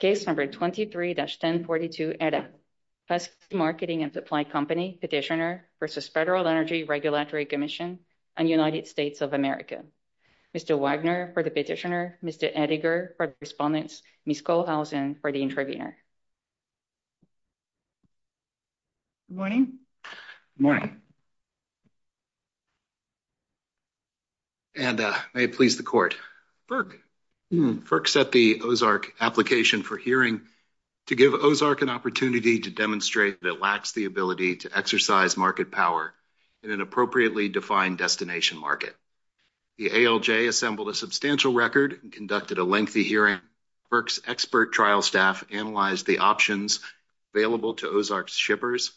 23-1042 Edda, FERC Marketing and Supply Company Petitioner v. Federal Energy Regulatory Commission on United States of America. Mr. Wagner for the Petitioner, Mr. Eddiger for the Respondent, Ms. Kohlhausen for the Intervener. Good morning. Good morning. Edda, may it please the Court. FERC set the OZARC application for hearing to give OZARC an opportunity to demonstrate that it lacks the ability to exercise market power in an appropriately defined destination market. The ALJ assembled a substantial record and conducted a lengthy hearing. FERC's expert trial staff analyzed the options available to OZARC's shippers.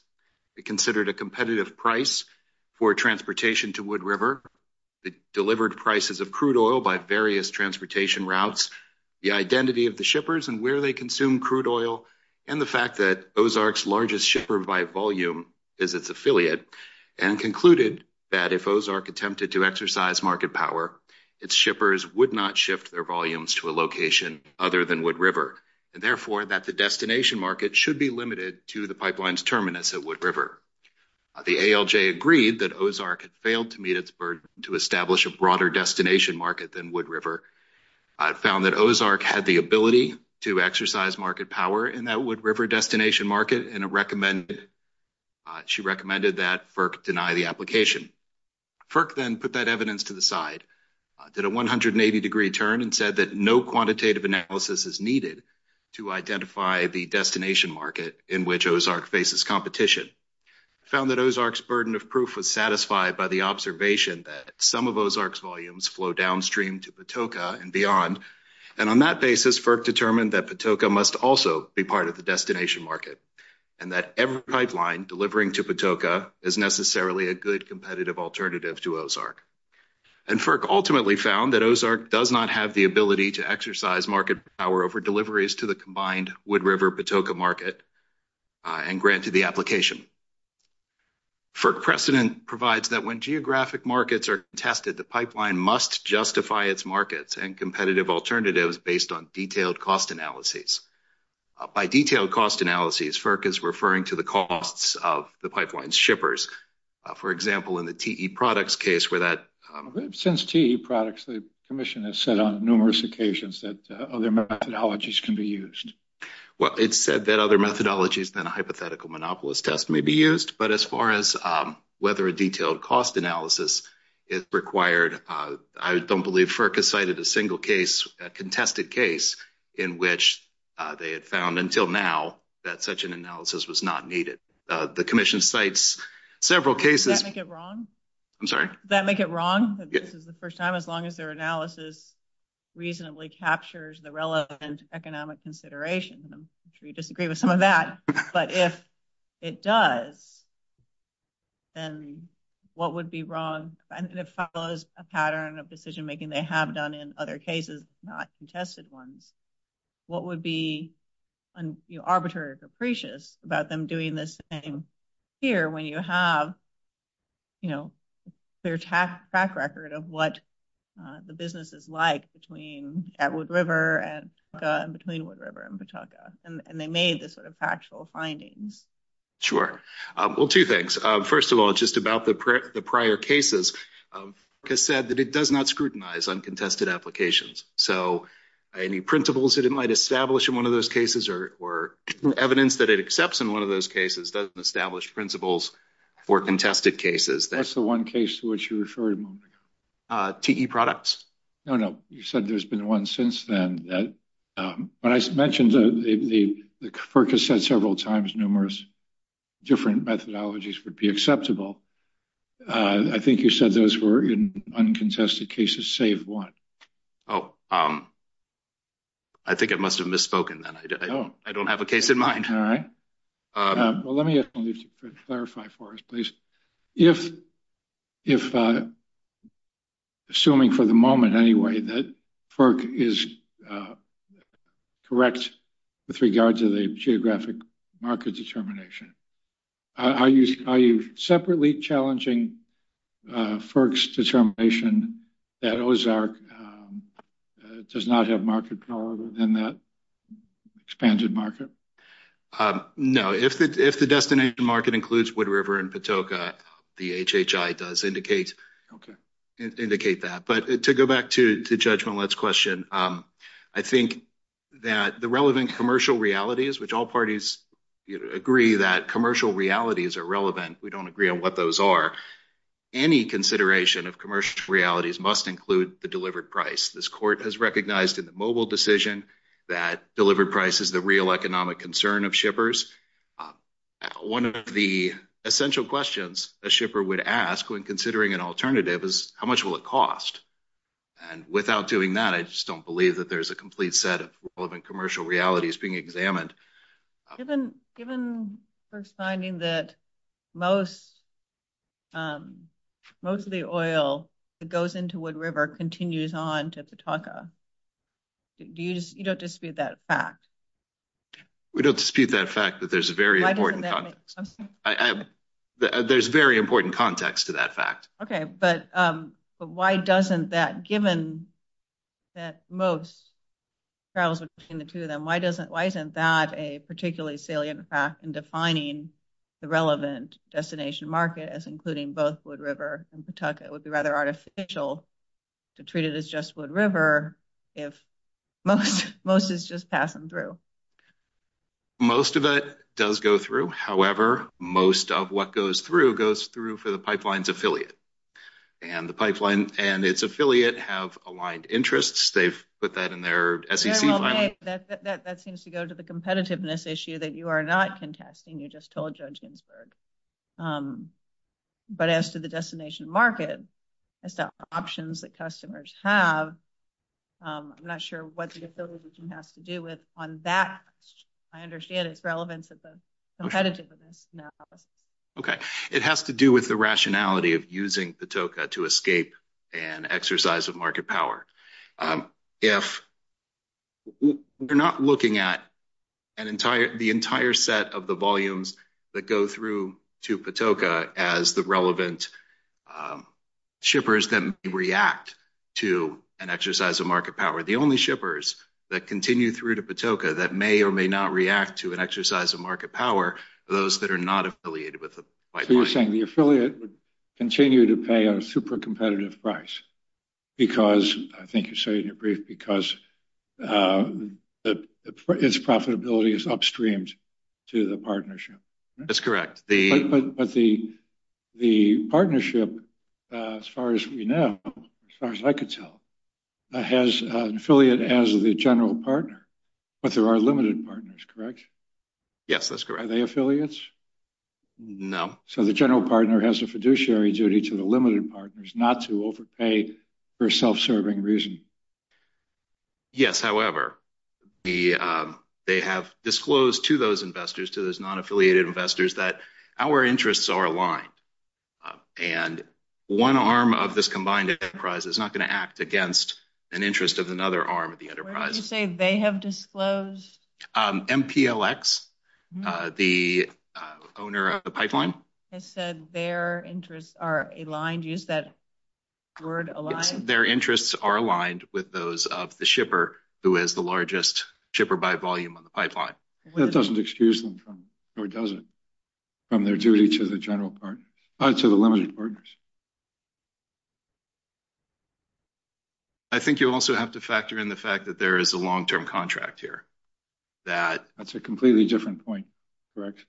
It considered a competitive price for transportation to Wood River. It delivered prices of crude oil by various transportation routes, the identity of the shippers and where they consume crude oil, and the fact that OZARC's largest shipper by volume is its affiliate, and concluded that if OZARC attempted to exercise market power, its shippers would not shift their volumes to a location other than Wood River, and therefore that the destination market should be limited to the pipeline's terminus at Wood River. The ALJ agreed that OZARC had failed to meet its burden to establish a broader destination market than Wood River. It found that OZARC had the ability to exercise market power in that Wood River destination market, and she recommended that FERC deny the application. FERC then put that evidence to the side, did a 180-degree turn, and said that no quantitative analysis is needed to identify the destination market in which OZARC faces competition. It found that OZARC's burden of proof was satisfied by the observation that some of OZARC's volumes flow downstream to Patoka and beyond, and on that basis, FERC determined that Patoka must also be part of the destination market, and that every pipeline delivering to Patoka is necessarily a good competitive alternative to OZARC. FERC ultimately found that OZARC does not have the ability to exercise market power over deliveries to the combined Wood River-Patoka market and granted the application. FERC precedent provides that when geographic markets are tested, the pipeline must justify its markets and competitive alternatives based on detailed cost analyses. By detailed cost analyses, FERC is referring to the costs of the pipeline's shippers. For example, in the TE Products case where that… Since TE Products, the Commission has said on numerous occasions that other methodologies can be used. Well, it said that other methodologies than a hypothetical monopolist test may be used, but as far as whether a detailed cost analysis is required, I don't believe FERC has cited a single case, a contested case, in which they have found until now that such an analysis was not needed. The Commission cites several cases… Does that make it wrong? I'm sorry? Does that make it wrong that this is the first time as long as their analysis reasonably captures the relevant economic considerations? I'm sure you disagree with some of that, but if it does, then what would be wrong? If it follows a pattern of decision-making they have done in other cases, not contested ones, what would be arbitrary or capricious about them doing the same here when you have, you know, their track record of what the business is like between Wood River and Patauka and between Wood River and Patauka, and they made this sort of factual findings. Sure. Well, two things. First of all, just about the prior cases, FERC has said that it does not scrutinize uncontested applications. So any principles it might establish in one of those cases or evidence that it accepts in one of those cases doesn't establish principles for contested cases. That's the one case to which you referred, Mike. TE products? No, no. You said there's been one since then. But I mentioned that FERC has said several times numerous different methodologies would be acceptable. I think you said those were in uncontested cases save one. Oh, I think I must have misspoken then. I don't have a case in mind. Let me just clarify for us, please. If, assuming for the moment anyway, that FERC is correct with regards to the geographic market determination, are you separately challenging FERC's determination that Ozark does not have market power within that expanded market? No. If the destination market includes Wood River and Patoka, the HHI does indicate that. But to go back to Judge Millett's question, I think that the relevant commercial realities, which all parties agree that commercial realities are relevant. We don't agree on what those are. Any consideration of commercial realities must include the delivered price. This court has recognized in the mobile decision that delivered price is the real economic concern of shippers. One of the essential questions a shipper would ask when considering an alternative is, how much will it cost? And without doing that, I just don't believe that there's a complete set of relevant commercial realities being examined. Given the first finding that most of the oil that goes into Wood River continues on to Patoka, you don't dispute that fact? We don't dispute that fact that there's very important context to that fact. Okay, but why doesn't that, given that most travels between the two of them, why isn't that a particularly salient fact in defining the relevant destination market as including both Wood River and Patoka? It would be rather artificial to treat it as just Wood River if most is just passing through. Most of it does go through. However, most of what goes through goes through for the pipeline's affiliate. And the pipeline and its affiliate have aligned interests. They've put that in their SEC. That seems to go to the competitiveness issue that you are not contesting. You just told Judge Ginsburg. But as to the destination market, it's the options that customers have. I'm not sure what the affiliation has to do with on that. I understand it's relevant to the competitiveness. Okay. It has to do with the rationality of using Patoka to escape an exercise of market power. If you're not looking at the entire set of the volumes that go through to Patoka as the relevant shippers that react to an exercise of market power, the only shippers that continue through to Patoka that may or may not react to an exercise of market power are those that are not affiliated with the pipeline. You're saying the affiliate would continue to pay a super competitive price because its profitability is upstream to the partnership. That's correct. But the partnership, as far as we know, as far as I can tell, has an affiliate as the general partner. But there are limited partners, correct? Yes, that's correct. Are they affiliates? No. So the general partner has a fiduciary duty to the limited partners not to overpay for self-serving reasons. Yes. However, they have disclosed to those investors, to those non-affiliated investors, that our interests are aligned. And one arm of this combined enterprise is not going to act against an interest of another arm of the enterprise. Where did you say they have disclosed? MPLX. The owner of the pipeline? I said their interests are aligned. Use that word aligned. Their interests are aligned with those of the shipper who has the largest shipper by volume on the pipeline. That doesn't excuse them from, or does it, from their duty to the general partner, to the limited partners. I think you also have to factor in the fact that there is a long-term contract here. That's a completely different point. Correct.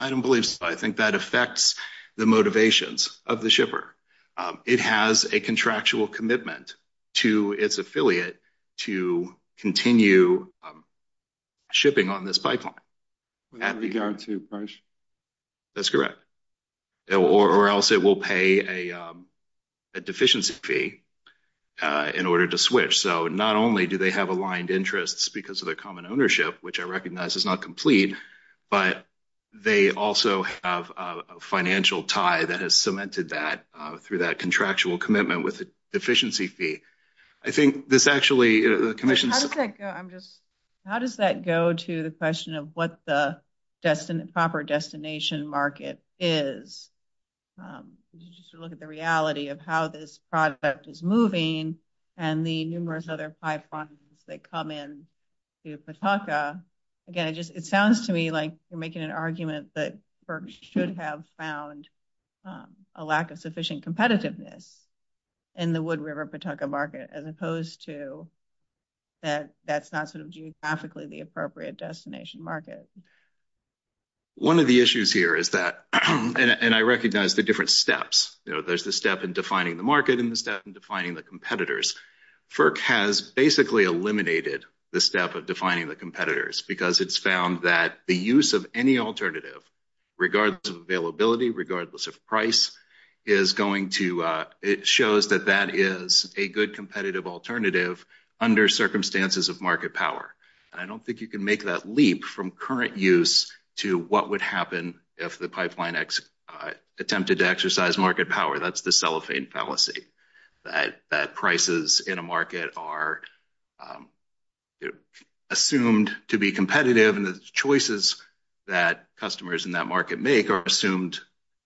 I don't believe so. I think that affects the motivations of the shipper. It has a contractual commitment to its affiliate to continue shipping on this pipeline. With regard to purchase? That's correct. Or else it will pay a deficiency fee in order to switch. So not only do they have aligned interests because of their common ownership, which I recognize is not complete, but they also have a financial tie that has cemented that through that contractual commitment with a deficiency fee. I think this actually – How does that go to the question of what the proper destination market is? Just to look at the reality of how this project is moving and the numerous other pipelines that come into Pawtucka. Again, it sounds to me like you're making an argument that Berks should have found a lack of sufficient competitiveness in the Wood River-Pawtucka market, as opposed to that that's not geographically the appropriate destination market. One of the issues here is that – and I recognize the different steps. There's the step in defining the market and the step in defining the competitors. FERC has basically eliminated the step of defining the competitors because it's found that the use of any alternative, regardless of availability, regardless of price, is going to – it shows that that is a good competitive alternative under circumstances of market power. I don't think you can make that leap from current use to what would happen if the pipeline attempted to exercise market power. That's the cellophane fallacy, that prices in a market are assumed to be competitive, and the choices that customers in that market make are assumed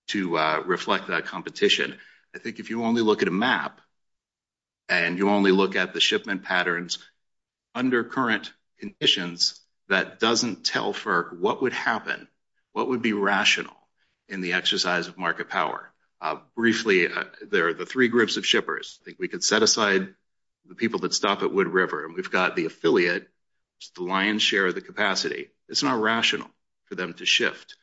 to reflect that competition. I think if you only look at a map and you only look at the shipment patterns under current conditions, that doesn't tell FERC what would happen, what would be rational in the exercise of market power. Briefly, there are the three groups of shippers. I think we could set aside the people that stop at Wood River. We've got the affiliate, the lion's share of the capacity. It's not rational for them to shift.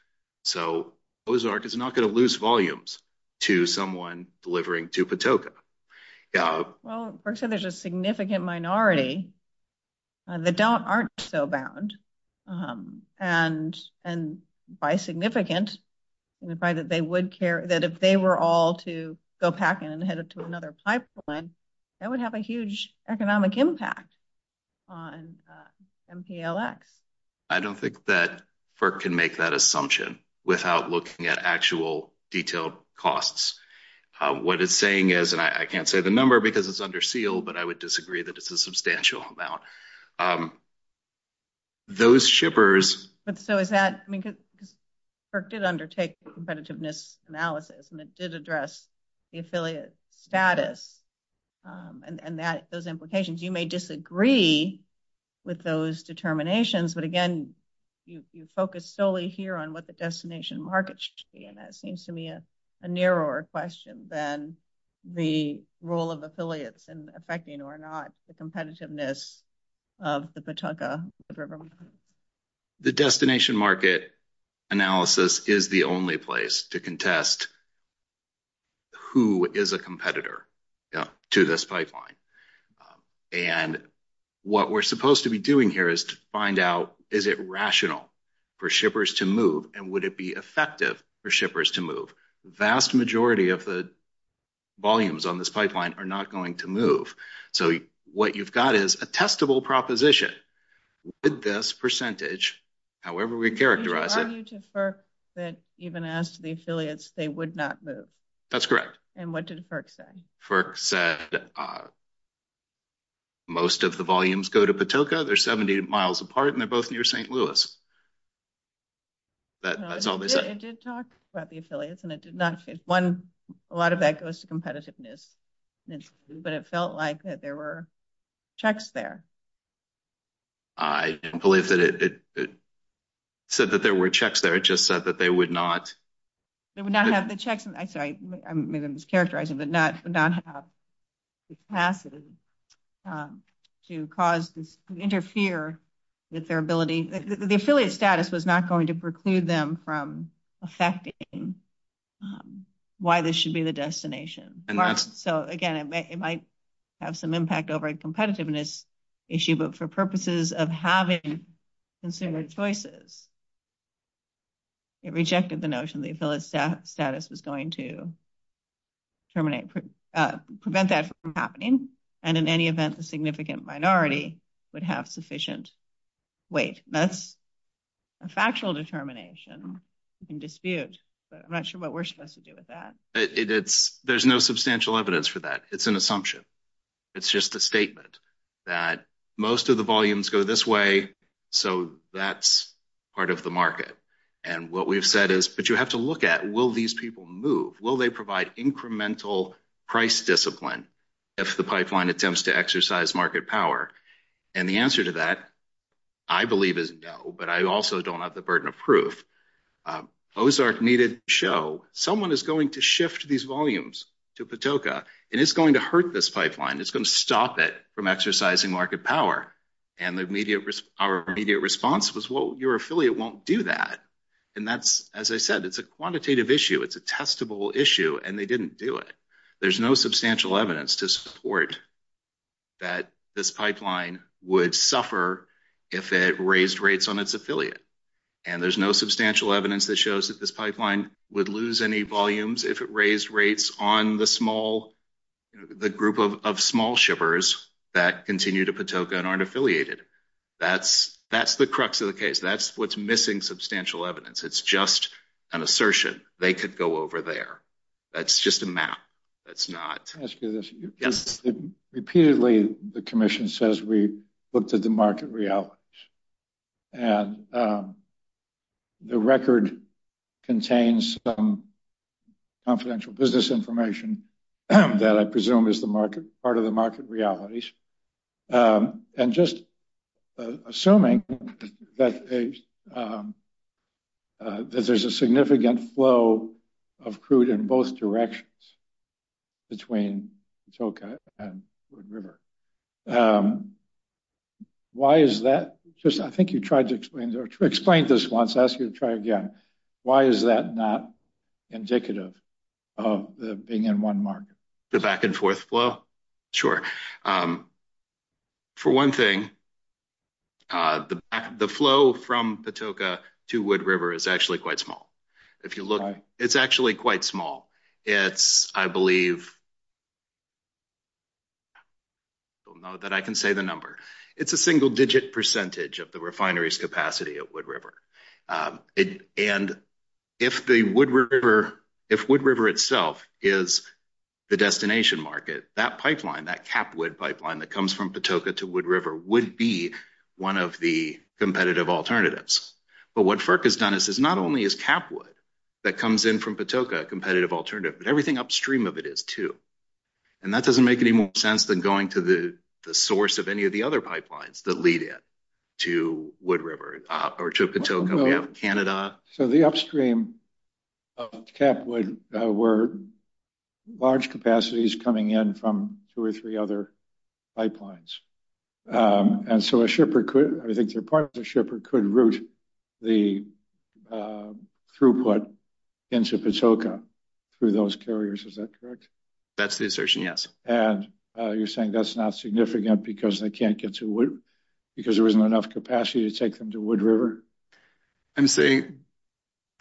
So, Ozark is not going to lose volumes to someone delivering to Patoka. Well, first of all, there's a significant minority that aren't so bound, and by significant, they would care that if they were all to go packing and headed to another pipeline, that would have a huge economic impact on MPLX. I don't think that FERC can make that assumption without looking at actual detailed costs. What it's saying is, and I can't say the number because it's under seal, but I would disagree that it's a substantial amount. Those shippers. So, is that, because FERC did undertake competitiveness analysis, and it did address the affiliate status and those implications. You may disagree with those determinations, but again, you focus solely here on what the destination market should be, and that seems to me a narrower question than the role of affiliates in affecting or not the competitiveness of the Patoka, the Rivermen. The destination market analysis is the only place to contest who is a competitor to this pipeline. And what we're supposed to be doing here is to find out, is it rational for shippers to move, and would it be effective for shippers to move? The vast majority of the volumes on this pipeline are not going to move. So, what you've got is a testable proposition. With this percentage, however we characterize it. It was an argument to FERC that even asked the affiliates they would not move. That's correct. And what did FERC say? FERC said most of the volumes go to Patoka. They're 70 miles apart, and they're both near St. Louis. That's all they said. It did talk about the affiliates, and it did not say one. A lot of that goes to competitiveness. But it felt like that there were checks there. I didn't believe that it said that there were checks there. It just said that they would not. They would not have the checks. I'm sorry, I'm mischaracterizing, but not have the passes to cause, to interfere with their ability. The affiliate status was not going to preclude them from affecting why this should be the destination. So, again, it might have some impact over a competitiveness issue, but for purposes of having consumer choices, it rejected the notion that the affiliate status is going to prevent that from happening, and in any event a significant minority would have sufficient weight. That's a factual determination. You can dispute, but I'm not sure what we're supposed to do with that. There's no substantial evidence for that. It's an assumption. It's just a statement that most of the volumes go this way, so that's part of the market. And what we've said is, but you have to look at, will these people move? Will they provide incremental price discipline if the pipeline attempts to exercise market power? And the answer to that, I believe, is no, but I also don't have the burden of proof. Those are needed to show someone is going to shift these volumes to Patoka, and it's going to hurt this pipeline. It's going to stop it from exercising market power. And our immediate response was, well, your affiliate won't do that, and that's, as I said, it's a quantitative issue. It's a testable issue, and they didn't do it. There's no substantial evidence to support that this pipeline would suffer if it raised rates on its affiliate, and there's no substantial evidence that shows that this pipeline would lose any volumes if it raised rates on the small, of small shivers that continue to Patoka and aren't affiliated. That's the crux of the case. That's what's missing substantial evidence. It's just an assertion. They could go over there. That's just a map. That's not— Let me ask you this. Yes. Repeatedly, the commission says we looked at the market realities, and the record contains some confidential business information that I presume is part of the market realities, and just assuming that there's a significant flow of crude in both directions between Patoka and Wood River. Why is that? I think you tried to explain this once. I'll ask you to try again. Why is that not indicative of being in one market? The back-and-forth flow? Sure. For one thing, the flow from Patoka to Wood River is actually quite small. It's actually quite small. It's, I believe—I don't know that I can say the number. It's a single-digit percentage of the refinery's capacity at Wood River. And if Wood River itself is the destination market, that pipeline, that CapWood pipeline that comes from Patoka to Wood River, would be one of the competitive alternatives. But what FERC has done is not only is CapWood that comes in from Patoka a competitive alternative, but everything upstream of it is, too. And that doesn't make any more sense than going to the source of any of the other pipelines that lead in to Patoka or Canada. The upstream of CapWood were large capacities coming in from two or three other pipelines. And so a shipper could—I think your point is a shipper could route the throughput into Patoka through those carriers, is that correct? That's the assertion, yes. And you're saying that's not significant because they can't get to Wood, because there isn't enough capacity to take them to Wood River? I'm saying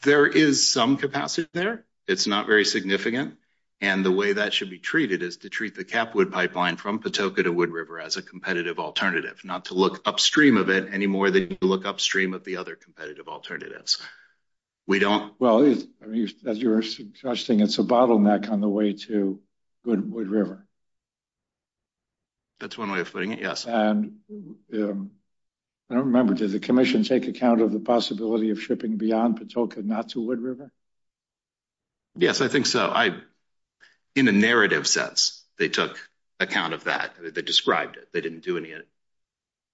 there is some capacity there. It's not very significant. And the way that should be treated is to treat the CapWood pipeline from Patoka to Wood River as a competitive alternative, not to look upstream of it any more than you look upstream of the other competitive alternatives. We don't— Well, as you were suggesting, it's a bottleneck on the way to Wood River. That's one way of putting it, yes. And I don't remember, did the commission take account of the possibility of shipping beyond Patoka not to Wood River? Yes, I think so. In a narrative sense, they took account of that. They described it. They didn't do any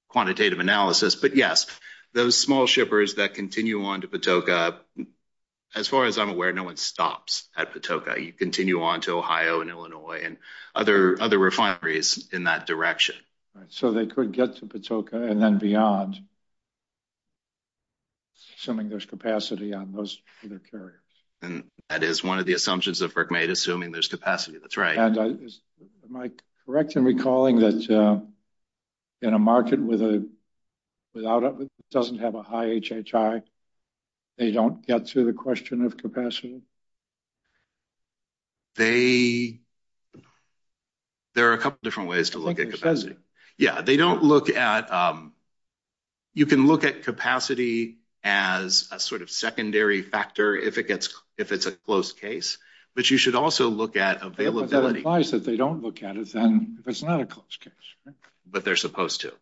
quantitative analysis. But, yes, those small shippers that continue on to Patoka, as far as I'm aware, no one stops at Patoka. You continue on to Ohio and Illinois and other refineries in that direction. So they could get to Patoka and then beyond, assuming there's capacity on most of the carriers. That is one of the assumptions that Rick made, assuming there's capacity. That's right. Am I correct in recalling that in a market that doesn't have a high HHI, they don't get to the question of capacity? They—there are a couple different ways to look at capacity. Yeah, they don't look at— you can look at capacity as a sort of secondary factor if it's a close case, but you should also look at availability. But that implies that they don't look at it then if it's not a close case. But they're supposed to,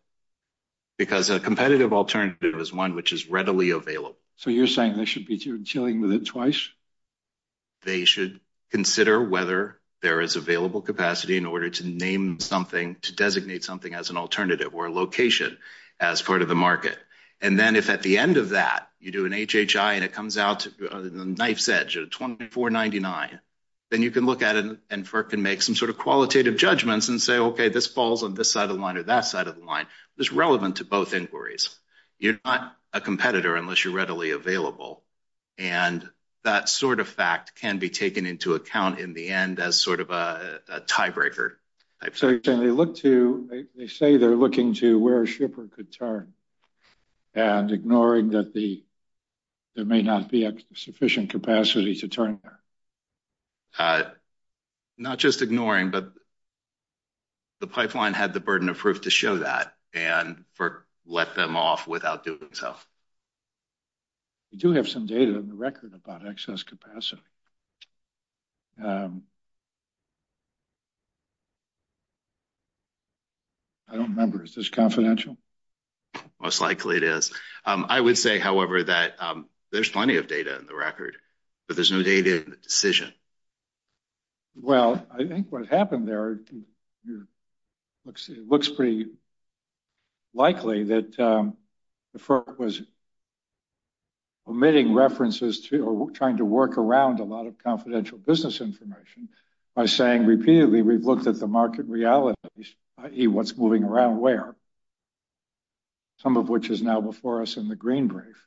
because a competitive alternative is one which is readily available. So you're saying they should be dealing with it twice? They should consider whether there is available capacity in order to name something, to designate something as an alternative or a location as part of the market. And then if at the end of that you do an HHI and it comes out on a knife's edge, a 2499, then you can look at it and FERC can make some sort of qualitative judgments and say, okay, this falls on this side of the line or that side of the line. It's relevant to both inquiries. You're not a competitor unless you're readily available. And that sort of fact can be taken into account in the end as sort of a tiebreaker. So you're saying they say they're looking to where a shipper could turn and ignoring that there may not be sufficient capacity to turn there? Not just ignoring, but the pipeline had the burden of proof to show that and FERC let them off without doing so. We do have some data in the record about excess capacity. I don't remember. Is this confidential? Most likely it is. I would say, however, that there's plenty of data in the record, but there's no data in the decision. Well, I think what happened there, it looks pretty likely that the FERC was omitting references to or trying to work around a lot of confidential business information by saying repeatedly we've looked at the market realities, i.e., what's moving around where, some of which is now before us in the green brief.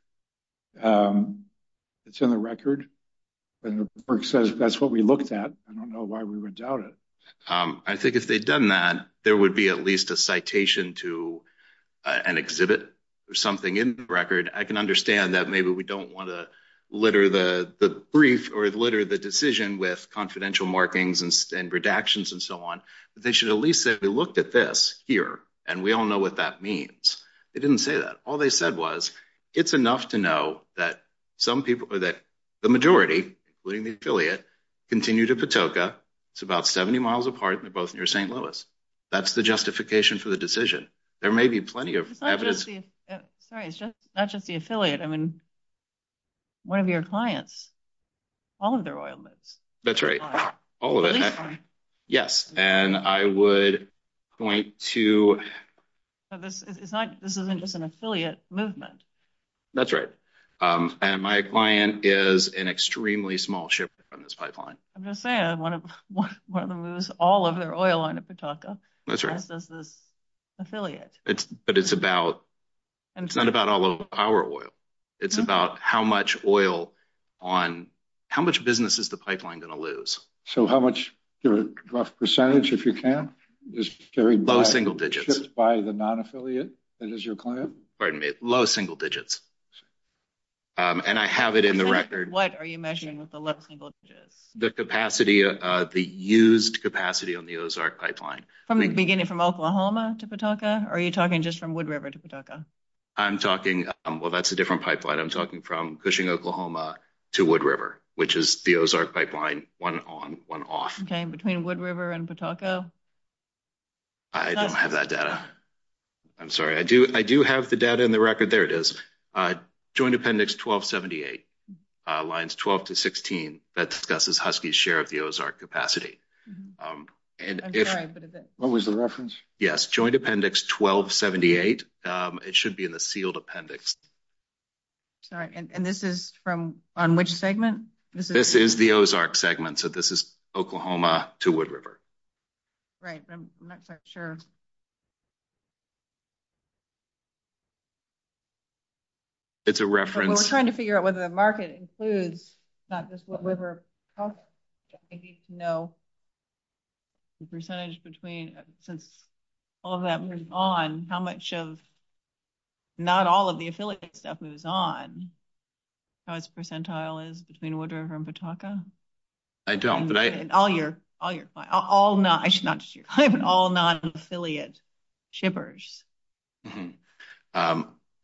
It's in the record, and the FERC says that's what we looked at. I don't know why we would doubt it. I think if they'd done that, there would be at least a citation to an exhibit or something in the record. I can understand that maybe we don't want to litter the brief or litter the decision with confidential markings and redactions and so on, but they should at least have looked at this here, and we all know what that means. They didn't say that. All they said was it's enough to know that the majority, including the affiliate, continue to Patoka. It's about 70 miles apart, and they're both near St. Louis. That's the justification for the decision. There may be plenty of evidence. It's not just the affiliate. One of your clients, all of their oil moves. That's right. All of it. Yes, and I would point to— This isn't just an affiliate movement. That's right. My client is an extremely small shipment from this pipeline. I'm just saying, one of them moves all of their oil onto Patoka. That's right. This is affiliate. But it's about—it's not about all of our oil. It's about how much oil on—how much business is the pipeline going to lose? So how much—the rough percentage, if you can, is very— Low single digits. Just by the non-affiliate that is your client? Pardon me. Low single digits, and I have it in the record. What are you measuring with the low single digits? The capacity, the used capacity on the Ozark pipeline. Beginning from Oklahoma to Patoka, or are you talking just from Wood River to Patoka? I'm talking—well, that's a different pipeline. I'm talking from Cushing, Oklahoma to Wood River, which is the Ozark pipeline, one on, one off. Okay, between Wood River and Patoka? I don't have that data. I'm sorry. I do have the data in the record. There it is. Joint Appendix 1278, lines 12 to 16, that discusses Husky's share of the Ozark capacity. I'm sorry, but is it— What was the reference? Yes, Joint Appendix 1278. It should be in the sealed appendix. All right, and this is from—on which segment? This is the Ozark segment, so this is Oklahoma to Wood River. Right, but I'm not quite sure. It's a reference— The percentage between—since all of that moves on, how much of—not all of the affiliate stuff moves on. How much percentile is between Wood River and Patoka? I don't, but I— All your—all non—I should not—all non-affiliate shippers. I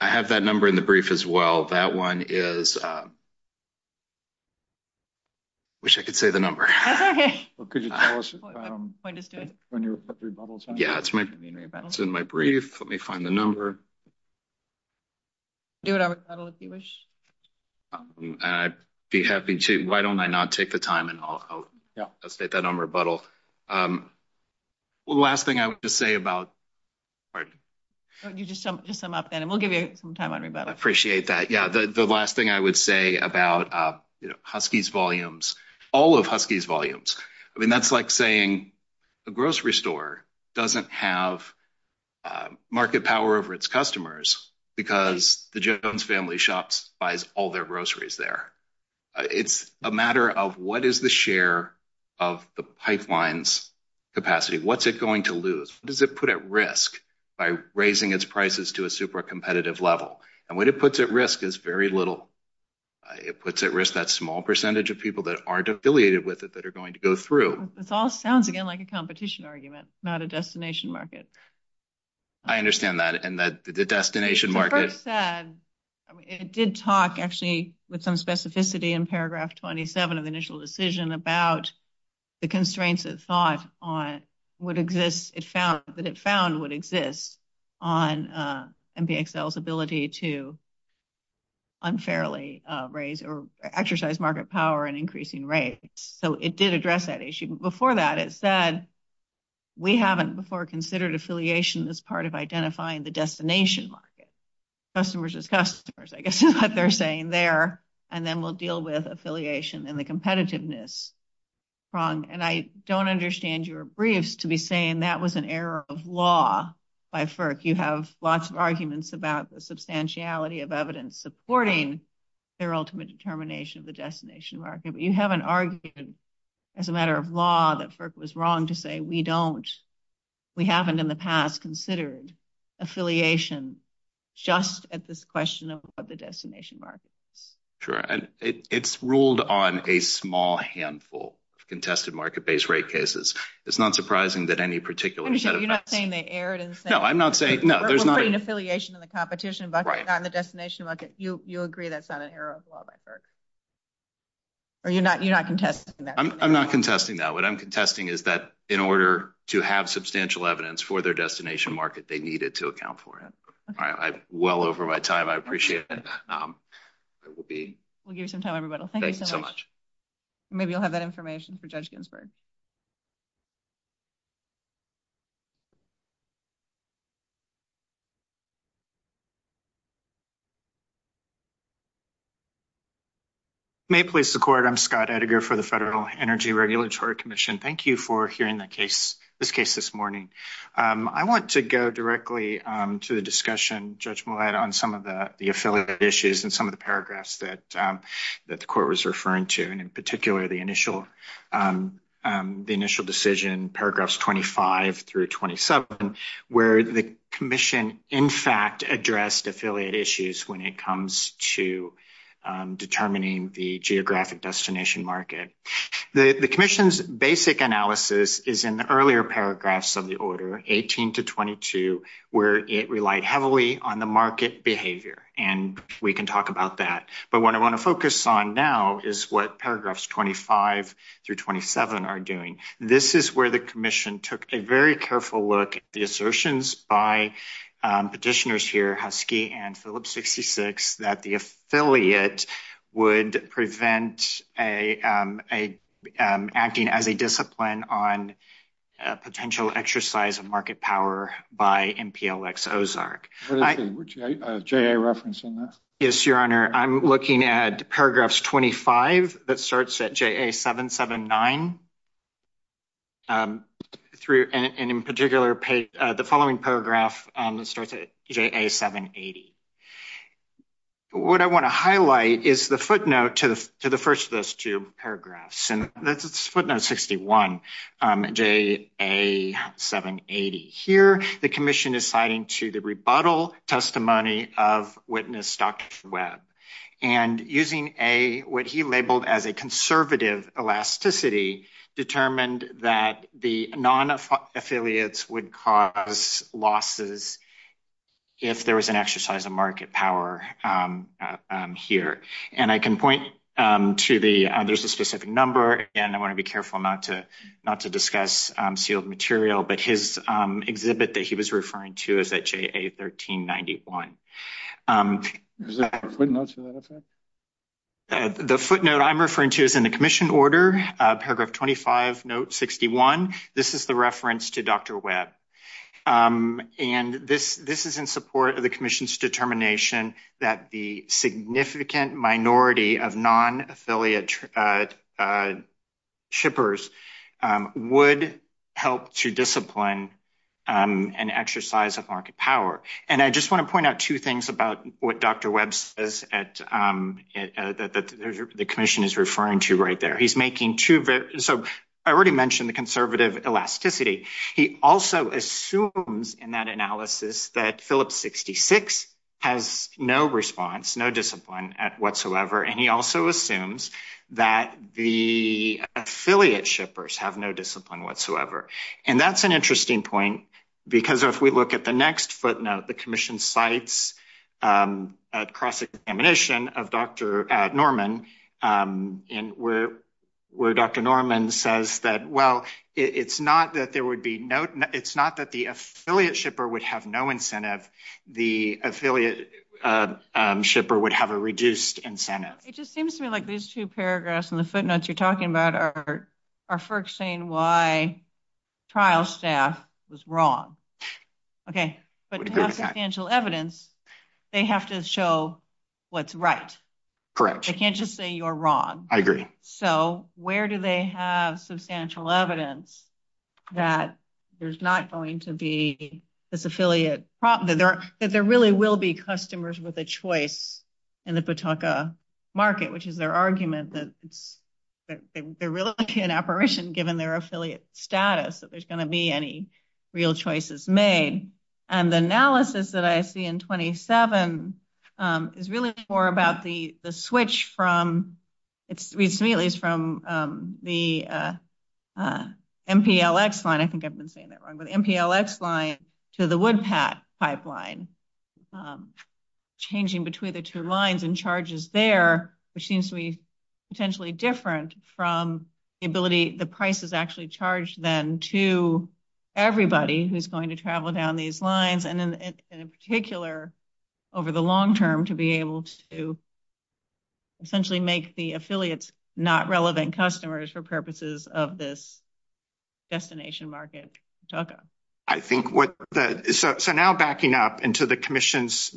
have that number in the brief as well. Okay. Could you tell us when your rebuttal time is? Yeah, it's in my brief. Let me find the number. Do you have a rebuttal if you wish? I'd be happy to. Why don't I now take the time and I'll state that on rebuttal. Well, the last thing I would just say about—pardon me. Just sum up then, and we'll give you some time on rebuttal. I appreciate that. Yeah, the last thing I would say about Husky's volumes—all of Husky's volumes. I mean, that's like saying a grocery store doesn't have market power over its customers because the Jones family shop buys all their groceries there. It's a matter of what is the share of the pipeline's capacity. What's it going to lose? What does it put at risk by raising its prices to a super competitive level? And what it puts at risk is very little. It puts at risk that small percentage of people that aren't affiliated with it that are going to go through. This all sounds, again, like a competition argument, not a destination market. I understand that. And the destination market— It did talk, actually, with some specificity in paragraph 27 of the initial decision about the constraints it thought would exist—that it found would exist on MPXL's ability to unfairly raise or exercise market power and increasing rates. So it did address that issue. We haven't before considered affiliation as part of identifying the destination market. Customers as customers, I guess, is what they're saying there. And then we'll deal with affiliation and the competitiveness. And I don't understand your briefs to be saying that was an error of law by FERC. You have lots of arguments about the substantiality of evidence supporting their ultimate determination of the destination market. You have an argument, as a matter of law, that FERC was wrong to say we don't—we haven't in the past considered affiliation just at this question of the destination market. It's ruled on a small handful of contested market-based rate cases. It's not surprising that any particular set of— You're not saying they erred in saying— No, I'm not saying— We're putting affiliation in the competition, but not in the destination market. You agree that's not an error of law by FERC? Or you're not contesting that? I'm not contesting that. What I'm contesting is that in order to have substantial evidence for their destination market, they needed to account for it. Well over my time, I appreciate that. We'll give some time, everybody. Thank you so much. Maybe you'll have that information for Judge Ginsburg. May it please the Court. I'm Scott Edgar for the Federal Energy Regulatory Commission. Thank you for hearing this case this morning. I want to go directly to the discussion, Judge Millett, on some of the affiliate issues and some of the paragraphs that the Court was referring to, and in particular the initial decision, paragraphs 25 through 27, where the Commission, in fact, addressed affiliate issues when it comes to determining the geographic destination market. The Commission's basic analysis is in the earlier paragraphs of the order, 18 to 22, where it relied heavily on the market behavior, and we can talk about that. But what I want to focus on now is what paragraphs 25 through 27 are doing. This is where the Commission took a very careful look at the assertions by petitioners here, Husky and Phillips 66, that the affiliate would prevent acting as a discipline on potential exercise of market power by MPLX Ozark. Would you like a JA reference on that? Yes, Your Honor. I'm looking at paragraphs 25 that starts at JA 779, and in particular the following paragraph that starts at JA 780. What I want to highlight is the footnote to the first of those two paragraphs. Footnote 61, JA 780. Here, the Commission is citing to the rebuttal testimony of witness Dr. Webb, and using what he labeled as a conservative elasticity, determined that the non-affiliates would cause losses if there was an exercise of market power here. I can point to the specific number. Again, I want to be careful not to discuss sealed material, but his exhibit that he was referring to is at JA 1391. Is that the footnote you're referring to? The footnote I'm referring to is in the Commission order, paragraph 25, note 61. This is the reference to Dr. Webb. This is in support of the Commission's determination that the significant minority of non-affiliate shippers would help to discipline an exercise of market power. I just want to point out two things about what Dr. Webb says that the Commission is referring to right there. I already mentioned the conservative elasticity. He also assumes in that analysis that Phillips 66 has no response, no discipline whatsoever, and he also assumes that the affiliate shippers have no discipline whatsoever. That's an interesting point, because if we look at the next footnote, the Commission cites a cross-examination of Dr. Norman, where Dr. Norman says that it's not that the affiliate shipper would have no incentive. The affiliate shipper would have a reduced incentive. It just seems to me like these two paragraphs in the footnotes you're talking about are first saying why trial staff was wrong. Okay, but to have substantial evidence, they have to show what's right. Correct. They can't just say you're wrong. I agree. Where do they have substantial evidence that there's not going to be this affiliate problem, that there really will be customers with a choice in the Pawtucket market, which is their argument that there really can't be an apparition given their affiliate status, that there's going to be any real choices made? The analysis that I see in 27 is really more about the switch from the MPLX line, I think I've been saying that wrong, but MPLX line to the Woodpat pipeline, changing between the two lines and charges there, which seems to be potentially different from the ability, the price is actually charged then to everybody who's going to travel down these lines, and in particular, over the long term, to be able to essentially make the affiliates not relevant customers for purposes of this destination market. So now backing up into the commission's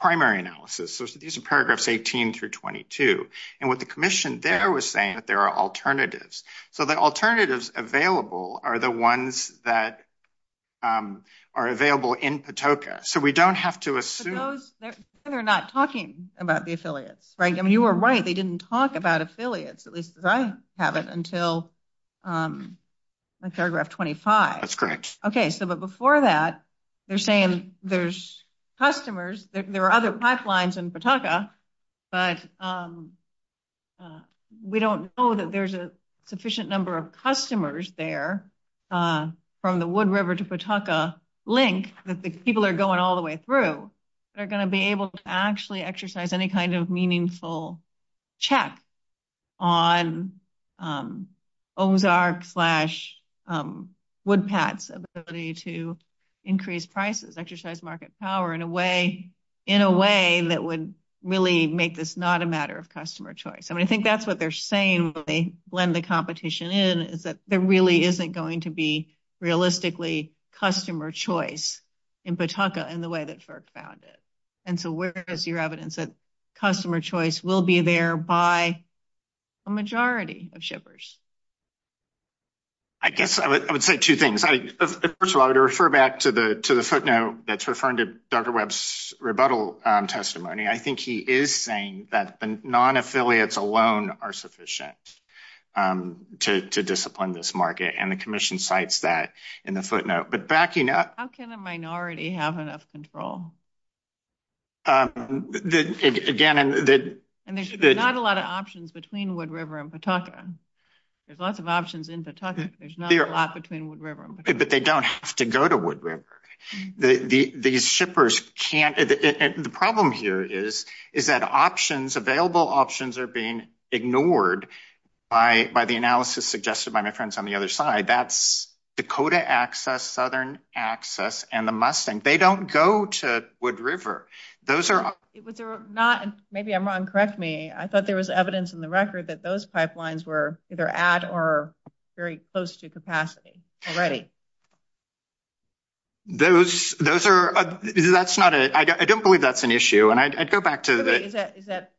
primary analysis, so these are paragraphs 18 through 22, and what the commission there was saying that there are alternatives, so the alternatives available are the ones that are available in Pawtucket, so we don't have to assume... You were right, they didn't talk about affiliates, at least I haven't, until paragraph 25. That's correct. Okay, so but before that, they're saying there's customers, there are other pipelines in Pawtucket, but we don't know that there's a sufficient number of customers there from the Wood River to Pawtucket link that the people that are going all the way through are going to be able to actually exercise any kind of meaningful check on Ozark slash Woodpat. So there's a possibility to increase prices, exercise market power in a way that would really make this not a matter of customer choice, and I think that's what they're saying when they blend the competition in, is that there really isn't going to be realistically customer choice in Pawtucket in the way that FERC found it, and so where is your evidence that customer choice will be there by a majority of shippers? I guess I would say two things. First of all, to refer back to the footnote that's referring to Dr. Webb's rebuttal testimony, I think he is saying that the non-affiliates alone are sufficient to discipline this market, and the commission cites that in the footnote. But backing up... How can a minority have enough control? Again... There's not a lot of options between Wood River and Pawtucket. There's lots of options in Pawtucket, but there's not a lot between Wood River and Pawtucket. But they don't have to go to Wood River. The problem here is that available options are being ignored by the analysis suggested by my friends on the other side. That's Dakota Access, Southern Access, and the Mustang. They don't go to Wood River. Maybe I'm wrong. Correct me. I thought there was evidence in the record that those pipelines were either at or very close to capacity already. I don't believe that's an issue. I'd go back to the... Is that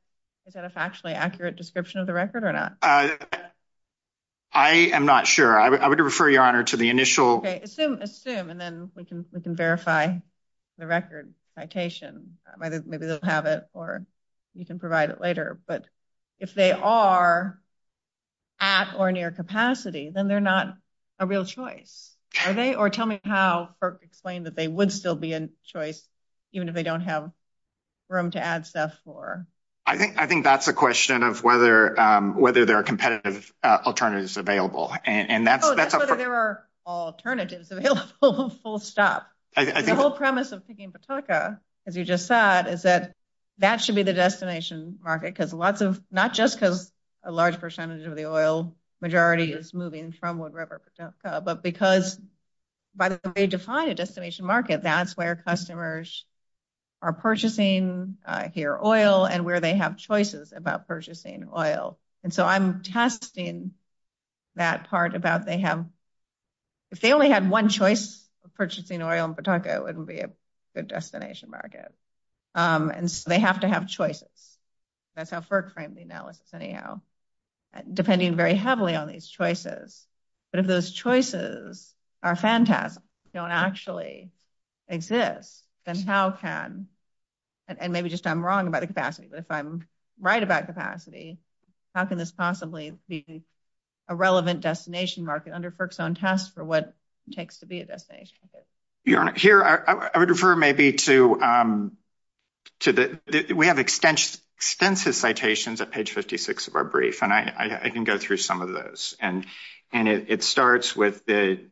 a factually accurate description of the record or not? I am not sure. I would refer Your Honor to the initial... Maybe they don't have it, or you can provide it later. But if they are at or near capacity, then they're not a real choice. Are they? Or tell me how FERC explained that they would still be a choice, even if they don't have room to add staff for. I think that's a question of whether there are competitive alternatives available. Whether there are alternatives available full stop. The whole premise of picking Pawtucket, as you just said, is that that should be the destination market. Not just because a large percentage of the oil majority is moving from Wood River to Pawtucket. But because by the way they define a destination market, that's where customers are purchasing their oil and where they have choices about purchasing oil. And so I'm testing that part about they have... If they only had one choice of purchasing oil in Pawtucket, it wouldn't be a good destination market. And so they have to have choices. That's how FERC framed the analysis anyhow. Depending very heavily on these choices. But if those choices are fantastic, don't actually exist, then how can... And maybe just I'm wrong about the capacity. But if I'm right about capacity, how can this possibly be a relevant destination market under FERC's own test for what it takes to be a destination market? Your Honor, here I would refer maybe to... We have extensive citations at page 56 of our brief. And I can go through some of those. And it starts with the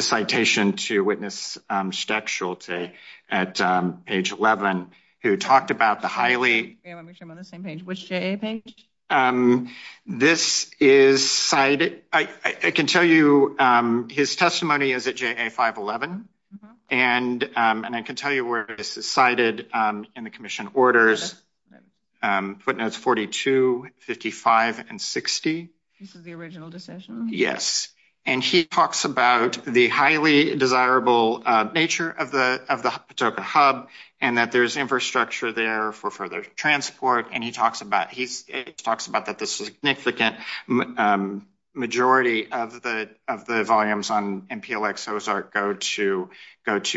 citation to witness stepsualty at page 11 who talked about the highly... Yeah, I'm sure I'm on the same page. Which JA page? This is cited... I can tell you his testimony is at JA 511. And I can tell you where this is cited in the commission orders, footnotes 42, 55, and 60. This is the original decision? Yes. And he talks about the highly desirable nature of the Patoka hub and that there's infrastructure there for further transport. And he talks about that the significant majority of the volumes on MPLX-HOSAR go to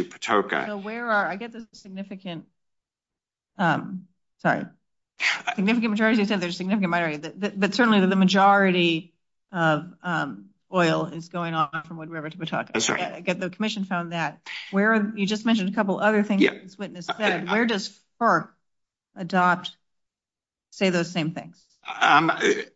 Patoka. So where are... I get the significant... Sorry. Significant majority said there's a significant majority. But certainly the majority of oil is going off from Wood River to Patoka. I get the commission found that. You just mentioned a couple of other things the witness said. Where does FERC adopt, say those same things? I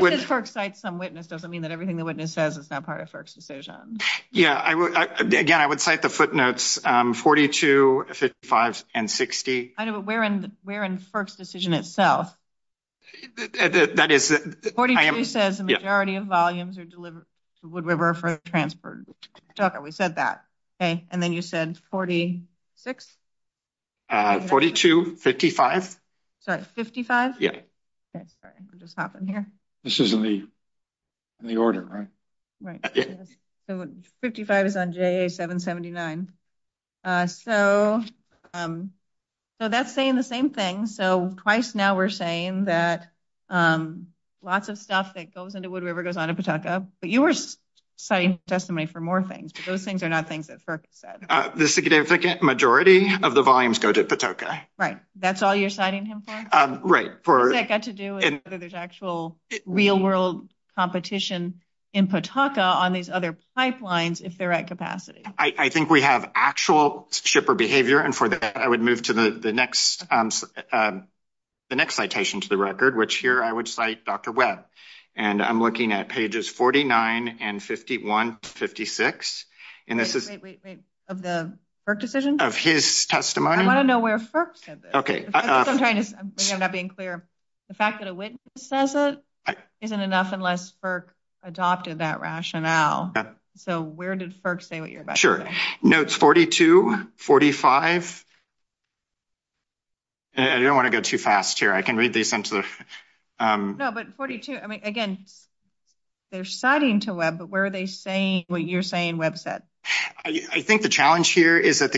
would... Just because FERC cites some witness doesn't mean that everything the witness says is not part of FERC's decision. Yeah. Again, I would cite the footnotes 42, 55, and 60. I know, but where in FERC's decision itself? That is... 42 says the majority of volumes are delivered to Wood River for transport to Patoka. We said that. Okay. And then you said 46? 42, 55. So that's 55? Yeah. Okay. Sorry. Let me just hop in here. This is in the order, right? Right. So 55 is on JA-779. So that's saying the same thing. So twice now we're saying that lots of stuff that goes into Wood River goes on to Patoka. But you were citing testimony for more things. Those things are not things that FERC said. The significant majority of the volumes go to Patoka. Right. That's all you're citing him for? Right. What does that have to do with whether there's actual real-world competition in Patoka on these other pipelines if they're at capacity? I think we have actual shipper behavior. And for that, I would move to the next citation to the record, which here I would cite Dr. Webb. And I'm looking at pages 49 and 51 to 56. Wait, wait, wait. Of the FERC decision? Of his testimony. I want to know where FERC said this. I'm trying to be clear. The fact that a witness says it isn't enough unless FERC adopted that rationale. So where did FERC say what you're about to say? Sure. Notes 42, 45. I don't want to go too fast here. I can read these. No, but 42, I mean, again, they're citing to Webb, but where are they saying what you're saying Webb said? I think the challenge here is that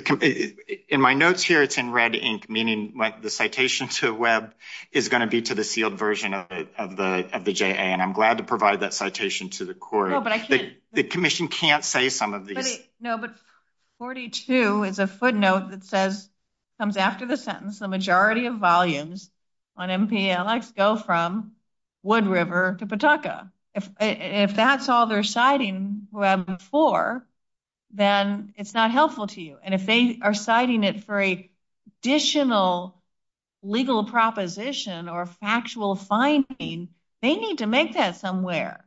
in my notes here, it's in red ink, meaning the citation to Webb is going to be to the sealed version of the JA. And I'm glad to provide that citation to the court. The commission can't say some of these. No, but 42 is a footnote that says, comes after the sentence, the majority of volumes on MPLX go from Wood River to Patoka. If that's all they're citing Webb for, then it's not helpful to you. And if they are citing it for a additional legal proposition or factual finding, they need to make that somewhere.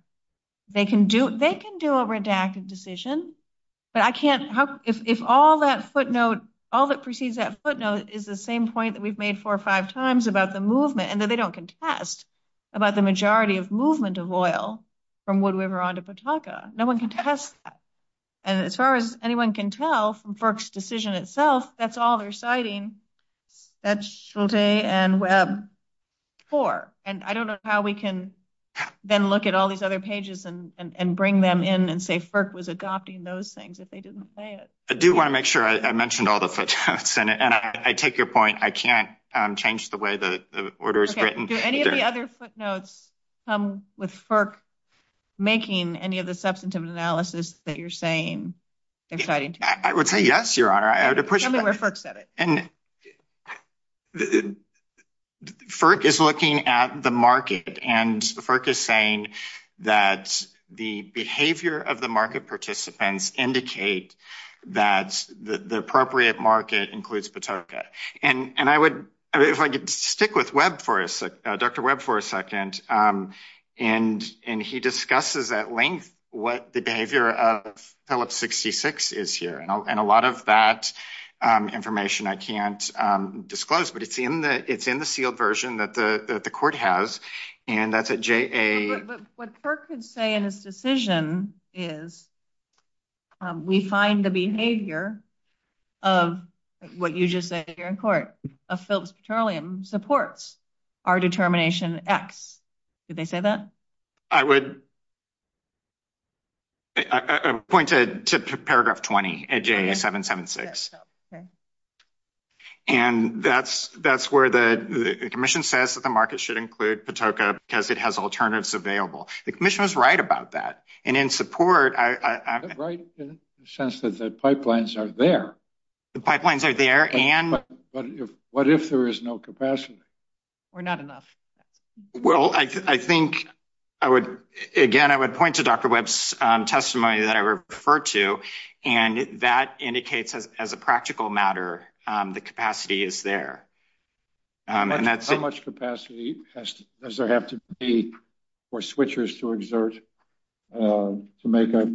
They can do a redacted decision, but I can't, if all that footnote, all that precedes that footnote is the same point that we've made four or five times about the movement, and that they don't contest about the majority of movement of oil from Wood River onto Patoka. No one can test that. And as far as anyone can tell from FERC's decision itself, that's all they're citing. That's Shulte and Webb for. And I don't know how we can then look at all these other pages and bring them in and say FERC was adopting those things if they didn't say it. I do want to make sure I mentioned all the footnotes, and I take your point. I can't change the way the order is written. Do any of the other footnotes come with FERC making any of the substantive analysis that you're saying exciting to you? I would say yes, Your Honor. FERC is looking at the market, and FERC is saying that the behavior of the market participants indicate that the appropriate market includes Patoka. And if I could stick with Dr. Webb for a second, and he discusses at length what the behavior of Pellet 66 is here. And a lot of that information I can't disclose, but it's in the sealed version that the court has. What FERC could say in this decision is we find the behavior of what you just said here in court, of Phillips Petroleum, supports our determination X. Did they say that? I would point to paragraph 20 at J776, and that's where the commission says that the market should include Patoka because it has alternatives available. The commission was right about that, and in support. Right, in the sense that the pipelines are there. The pipelines are there, and? What if there is no capacity? We're not enough. Well, I think I would, again, I would point to Dr. Webb's testimony that I referred to, and that indicates as a practical matter, the capacity is there. How much capacity does there have to be for switchers to exert to make a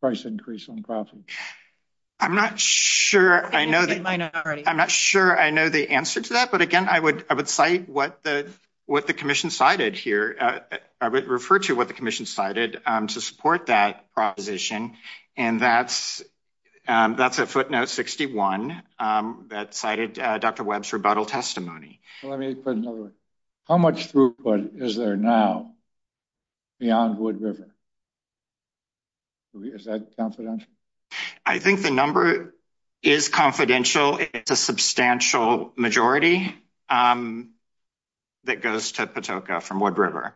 price increase on profits? I'm not sure I know the answer to that, but again, I would cite what the commission cited here. I would refer to what the commission cited to support that proposition. And that's a footnote 61 that cited Dr. Webb's rebuttal testimony. How much throughput is there now beyond Wood River? Is that confidential? I think the number is confidential. It's a substantial majority that goes to Patoka from Wood River.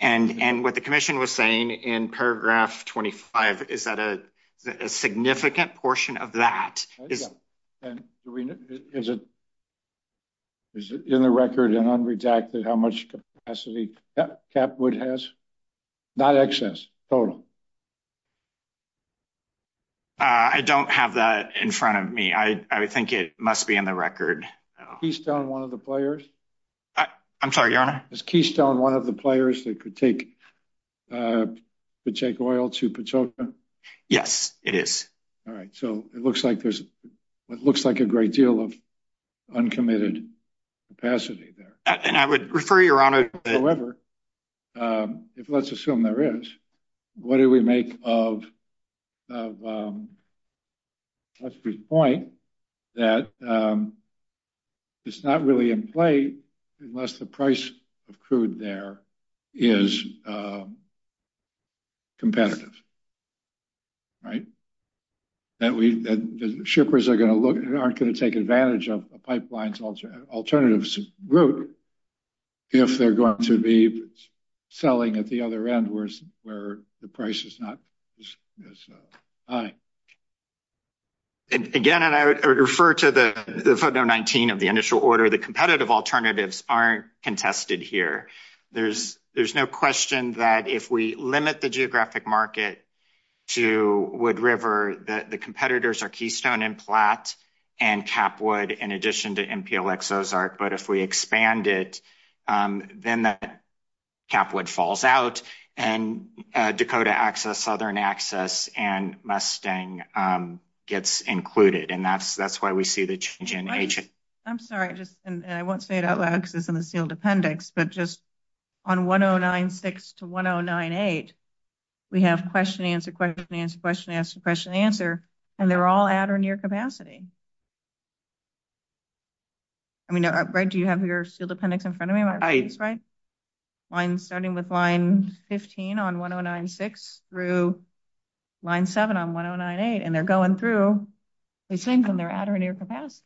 And what the commission was saying in paragraph 25 is that a significant portion of that. Is it in the record and unredacted how much capacity Capwood has? Not excess, total? I don't have that in front of me. I think it must be in the record. Is Keystone one of the players? I'm sorry, Your Honor? Is Keystone one of the players that could take oil to Patoka? Yes, it is. All right. So it looks like there's it looks like a great deal of uncommitted capacity there. And I would refer, Your Honor. However, if let's assume there is, what do we make of Jeffrey's point that it's not really in play unless the price of crude there is competitive. Right. That the shippers are going to look and aren't going to take advantage of the pipeline's alternative route if they're going to be selling at the other end where the price is not as high. Again, and I would refer to the footnote 19 of the initial order. The competitive alternatives aren't contested here. There's no question that if we limit the geographic market to Wood River, the competitors are Keystone and Platte and Capwood in addition to MPLX Ozark. But if we expand it, then Capwood falls out and Dakota Access, Southern Access and Mustang gets included. And that's why we see the change in nature. I'm sorry, I won't say it out loud because it's in the sealed appendix, but just on 1096 to 1098, we have question, answer, question, answer, question, answer, question, answer. And they're all at or near capacity. I mean, do you have your appendix in front of me? Right. Starting with line 15 on 1096 through line seven on 1098. And they're going through these things and they're at or near capacity.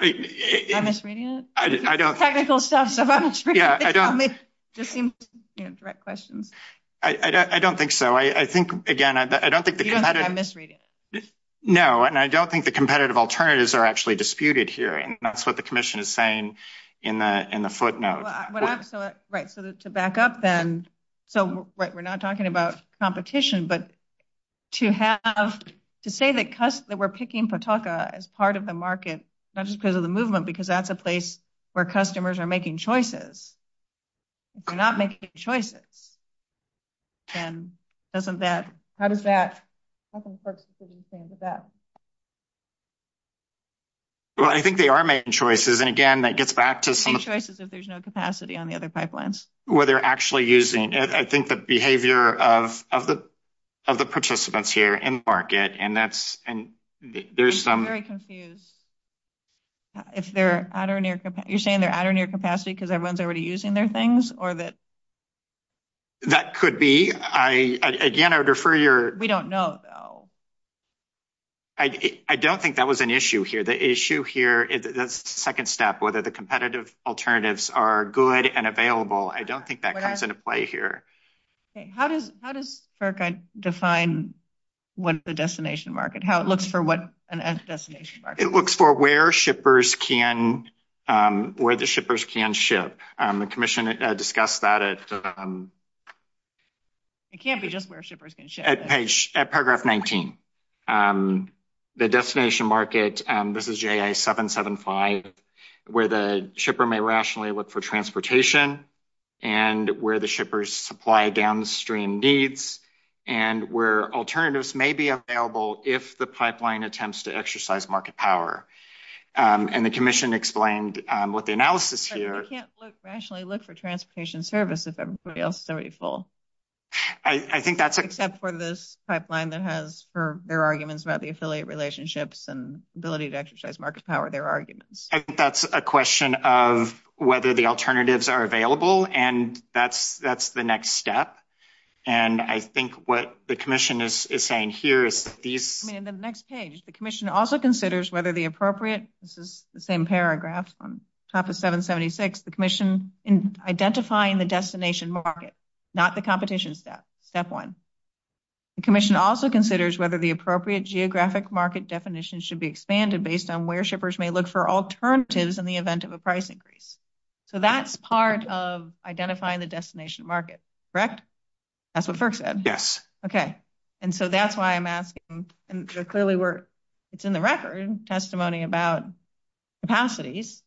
Am I misreading it? I don't think so. Again, I don't think the competitive alternatives are actually disputed here. And that's what the commission is saying in the footnote. Right. So to back up then. So we're not talking about competition, but to say that we're picking Pawtucka as part of the market, not just because of the movement, because that's a place where customers are making choices. If they're not making choices, then how does that make sense? Well, I think they are making choices. And again, that gets back to some of the. Making choices if there's no capacity on the other pipelines. Where they're actually using. I think the behavior of the participants here in market, and that's. I'm very confused. You're saying they're at or near capacity because everyone's already using their things? That could be. Again, I would refer your. We don't know, though. I don't think that was an issue here. The issue here is the second step, whether the competitive alternatives are good and available. I don't think that comes into play here. How does how does. Define what the destination market, how it looks for what an as destination. It looks for where shippers can, where the shippers can ship. The commission discussed that. It can't be just where shippers can ship page at paragraph 19. The destination market, this is 7, 7, 5. Where the shipper may rationally look for transportation. And where the shippers supply downstream needs. And where alternatives may be available if the pipeline attempts to exercise market power. And the commission explained what the analysis here. Rationally look for transportation services. I think that's. For this pipeline that has for their arguments about the affiliate relationships and ability to exercise market power, their arguments. That's a question of whether the alternatives are available and that's, that's the next step. And I think what the commission is saying here is. The next page, the commission also considers whether the appropriate, this is the same paragraph. Top of 776, the commission in identifying the destination market. Not the competition step one. The commission also considers whether the appropriate geographic market definition should be expanded based on where shippers may look for alternatives in the event of a price increase. So, that's part of identifying the destination market. Correct. That's what first said. Yes. Okay. And so that's why I'm asking. And clearly, we're, it's in the record testimony about. Capacities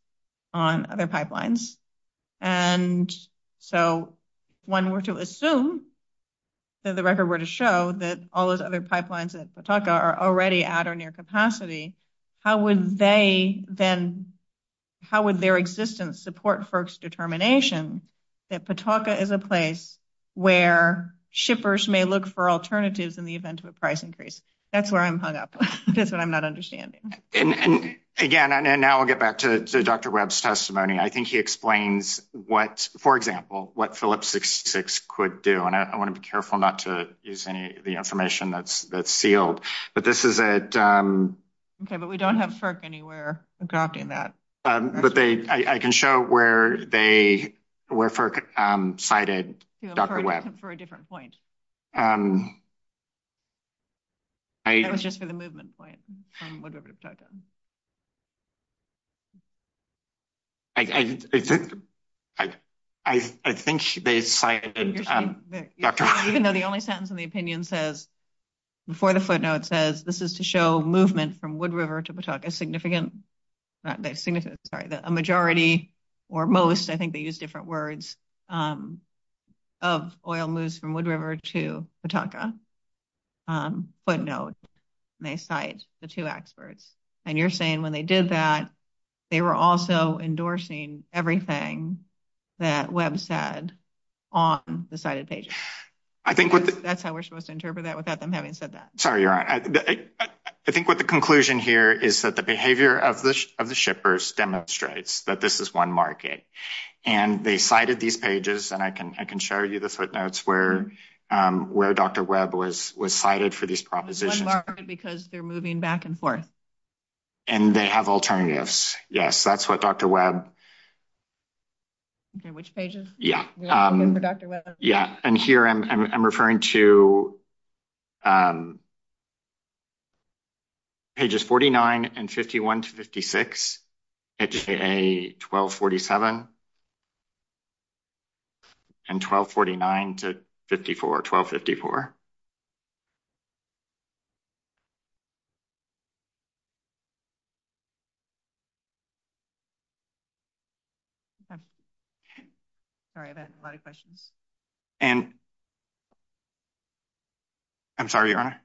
on other pipelines. And so when we're to assume. So, the record were to show that all those other pipelines and talk are already at or near capacity. How would they then? How would their existence support folks determination? That Pataka is a place where shippers may look for alternatives in the event of a price increase. That's where I'm hung up. That's what I'm not understanding. And again, and now we'll get back to Dr. Webb's testimony. I think he explains what, for example, what Phillips could do. And I want to be careful not to use any of the information that's that's field. But this is it. Okay. But we don't have anywhere adopting that. But I can show where they were cited for a different point. I was just for the movement point. I think. Even though the only sentence in the opinion says. Before the footnote says this is to show movement from Wood River to Pataka significant. A majority or most, I think they use different words. Of oil moves from Wood River to Pataka. But no, they cite the two experts. And you're saying when they did that, they were also endorsing everything that Webb said on the side of page. I think that's how we're supposed to interpret that without them having said that. Sorry. You're right. I think what the conclusion here is that the behavior of the shippers demonstrates that this is one market and they cited these pages. And I can, I can show you the footnotes where where Dr. Webb was cited for these propositions because they're moving back and forth. And they have alternatives. Yes, that's what Dr. Webb. Which pages? Yeah. Yeah. And here I'm referring to. Just forty nine and fifty one to fifty six, a twelve, forty seven. And twelve, forty nine to fifty four, twelve, fifty four. And. I'm sorry, your Honor.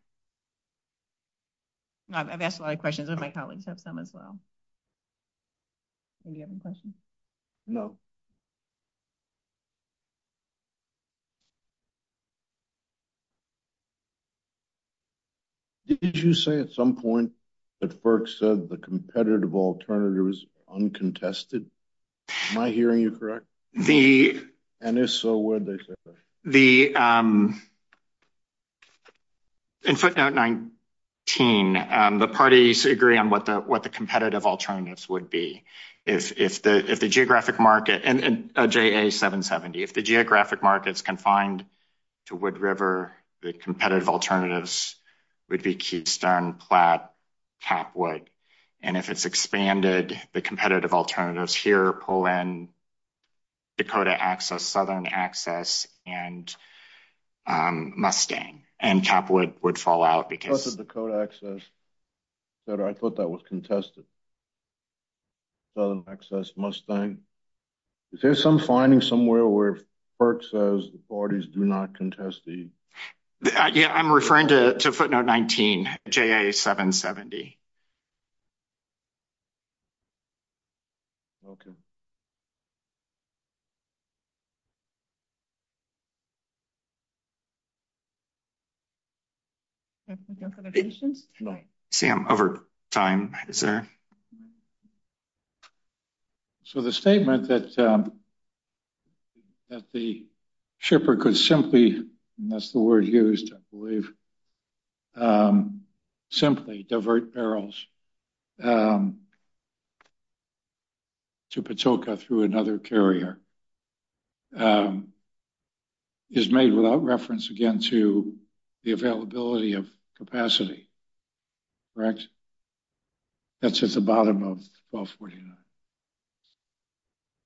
I've asked a lot of questions of my colleagues, some as well. Any other questions? No. Did you say at some point that Burke said the competitive alternatives uncontested? Am I hearing you correct? The. And if so, where the the. In footnote 19, the parties agree on what the what the competitive alternatives would be. If the if the geographic market and J.A. 770, if the geographic markets confined to Wood River, the competitive alternatives would be keep stone plat top wood. And if it's expanded, the competitive alternatives here pull in. Dakota access, southern access and Mustang and capital would fall out because of the code access that I thought that was contested. So access Mustang. Is there some finding somewhere where Burke says the parties do not contest the idea? I'm referring to footnote 19, J.A. 770. OK. And. Sam, over time, sir. So the statement that that the shipper could simply miss the word here is to simply divert barrels. To Patoka through another carrier. Is made without reference again to the availability of capacity. Correct. That's just the bottom of.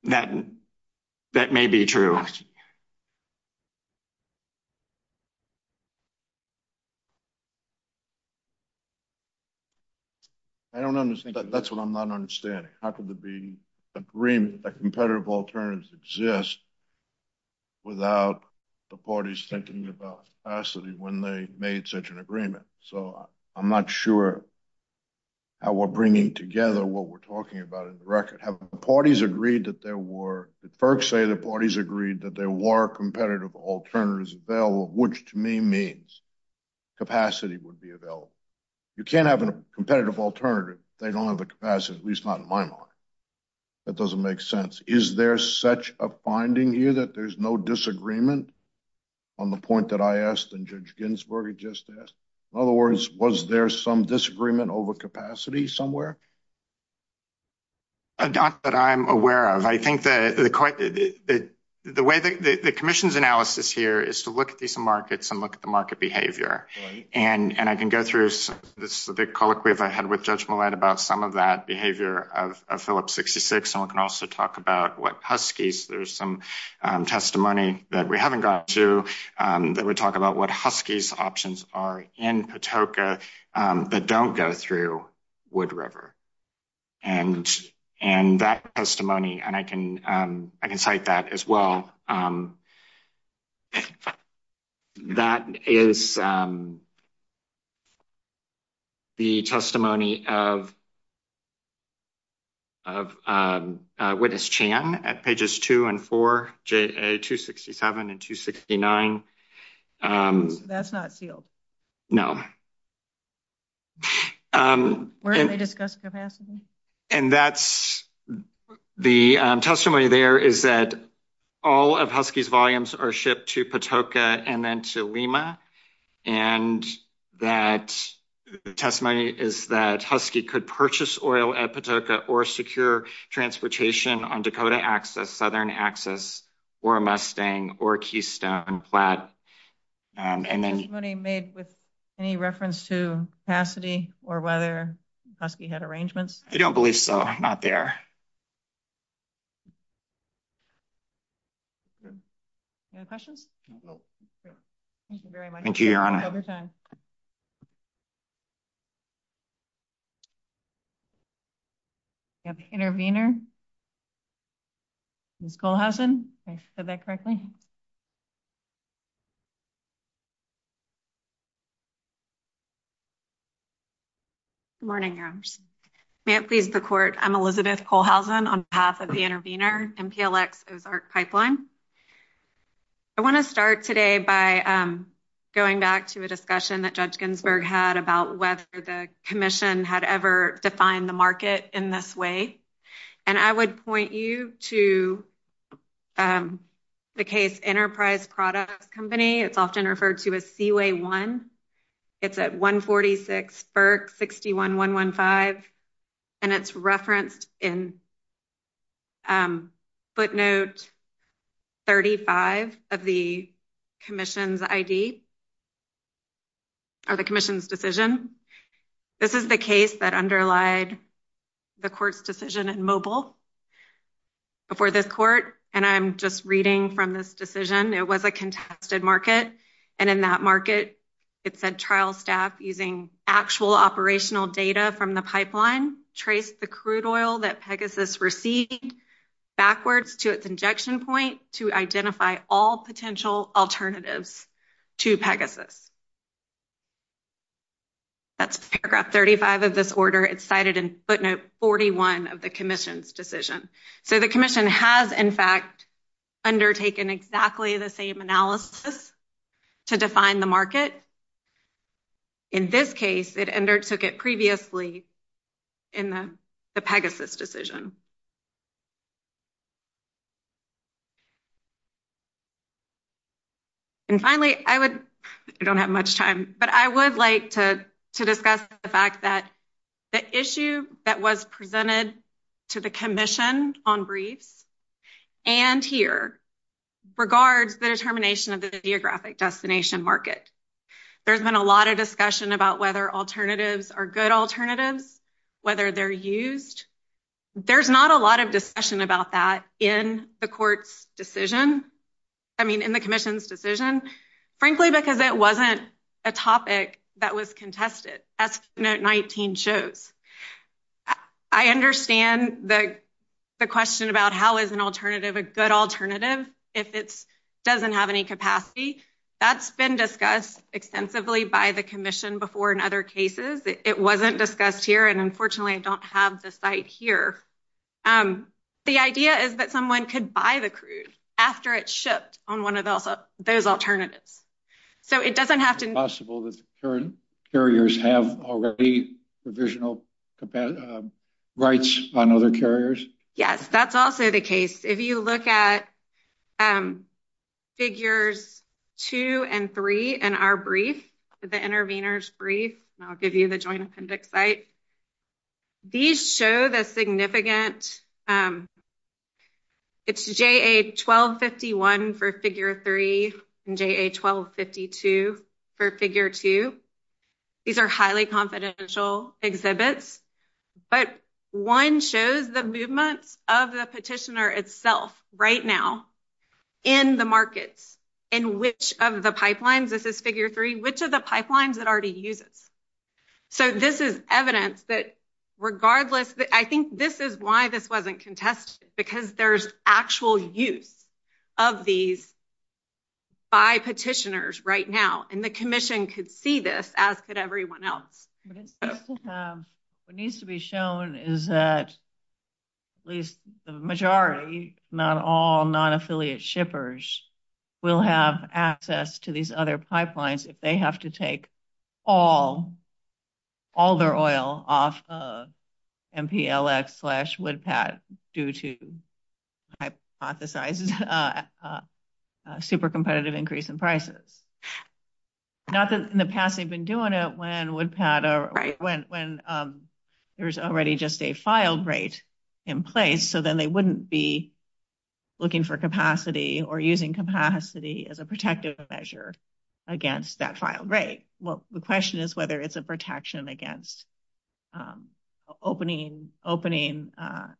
That may be true. I don't understand that. That's what I'm not understanding. Green, a competitive alternatives exist. Without the parties thinking about acidity when they made such an agreement, so I'm not sure. We're bringing together what we're talking about in the record parties agreed that there were the first say the parties agreed that there were competitive alternatives available, which to me means capacity would be available. You can't have a competitive alternative. They don't have a capacity, at least not in my mind. That doesn't make sense. Is there such a finding here that there's no disagreement? On the point that I asked, and Judge Ginsburg just asked, in other words, was there some disagreement over capacity somewhere? Not that I'm aware of. I think that the way that the commission's analysis here is to look at these markets and look at the market behavior. And I can go through this, the big colloquy of I had with judgment about some of that behavior of Phillips, 66. And I can cite that as well. That is. The testimony of. The testimony of. Witness Chan at pages two and four, two, sixty seven and two, sixty nine. That's not healed. No. And that's the testimony there is that. All of Husky's volumes are shipped to Patoka and then to Lima. And that testimony is that Husky could purchase oil at Patoka or secure transportation on Dakota access, southern access. Or Mustang or Keystone flat. And then made with any reference to capacity or whether Husky had arrangements. I don't believe so. I'm not there. No question. Thank you. Intervener. Cole has said that correctly. Morning, Nancy, the court, I'm Elizabeth Cole has been on behalf of the intervener. Hi, everyone. My name is Elizabeth Cole. I'm on behalf of MPLX pipeline. I want to start today by going back to a discussion that judge Ginsburg had about whether the commission had ever defined the market in this way. And I would point you to. The case enterprise product company, it's often referred to as the way one. It's at 146, 61, 1, 1, 5. And it's referenced in footnote. 35 of the commission's ID. Are the commission's decision. This is the case that underlie. The court's decision and mobile before this court, and I'm just reading from this decision. It was a contested market. And in that market, it's a trial staff using actual operational data from the pipeline trace, the crude oil that Pegasus received. Backwards to its injection point to identify all potential alternatives. To Pegasus. That's paragraph 35 of this order. It's cited in footnote 41 of the commission's decision. So the commission has, in fact. Undertaken exactly the same analysis to define the market. In this case, it undertook it previously. In the Pegasus decision. And finally, I would don't have much time, but I would like to discuss the fact that. The issue that was presented to the commission on brief. And here regards the determination of the geographic destination market. There's been a lot of discussion about whether alternatives are good alternatives. Whether they're used, there's not a lot of discussion about that in the court's decision. I mean, in the commission's decision, frankly, because that wasn't a topic that was contested. That's not 19 shows. I understand that. The question about how is an alternative a good alternative if it doesn't have any capacity. That's been discussed extensively by the commission before in other cases. It wasn't discussed here. And unfortunately, I don't have the site here. The idea is that someone could buy the cruise after it shipped on 1 of those alternatives. So, it doesn't have to be possible that the current carriers have already provisional rights on other carriers. Yes, that's also the case. If you look at. Figures 2 and 3 and our brief, the interveners brief, I'll give you the joint site. These show the significant. It's a 1251 for figure 3, 1252 for figure 2. These are highly confidential exhibits, but 1 shows the movement of the petitioner itself right now. In the market, in which of the pipelines, this is figure 3, which of the pipelines that already uses. So, this is evidence that regardless, I think this is why this wasn't contested because there's actual use of these. By petitioners right now, and the commission could see this as could everyone else. What needs to be shown is that at least the majority, not all non affiliate shippers. We'll have access to these other pipelines if they have to take. All all their oil off. And P. L. S. slash would Pat due to. Super competitive increase in prices. Nothing in the past, they've been doing it when would pattern when when. There's already just a filed rate in place. So then they wouldn't be. Looking for capacity or using capacity as a protective measure. Against that, right? Well, the question is whether it's a protection against. Opening opening up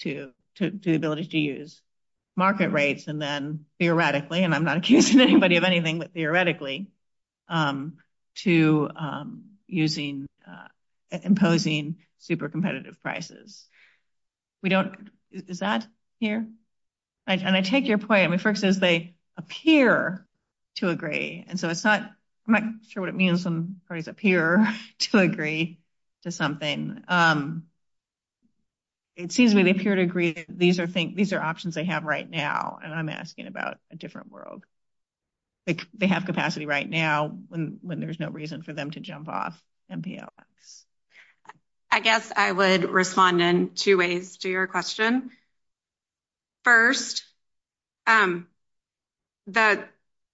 to do ability to use. Market rates, and then theoretically, and I'm not accusing anybody of anything, but theoretically. To using imposing super competitive prices. We don't is that here? And I take your point. I mean, first is they appear. To agree, and so it's not sure what it means to appear to agree to something. It seems to me they appear to agree. These are things these are options they have right now. And I'm asking about a different world. They have capacity right now when there's no reason for them to jump off. I guess I would respond in 2 ways to your question. 1st, that.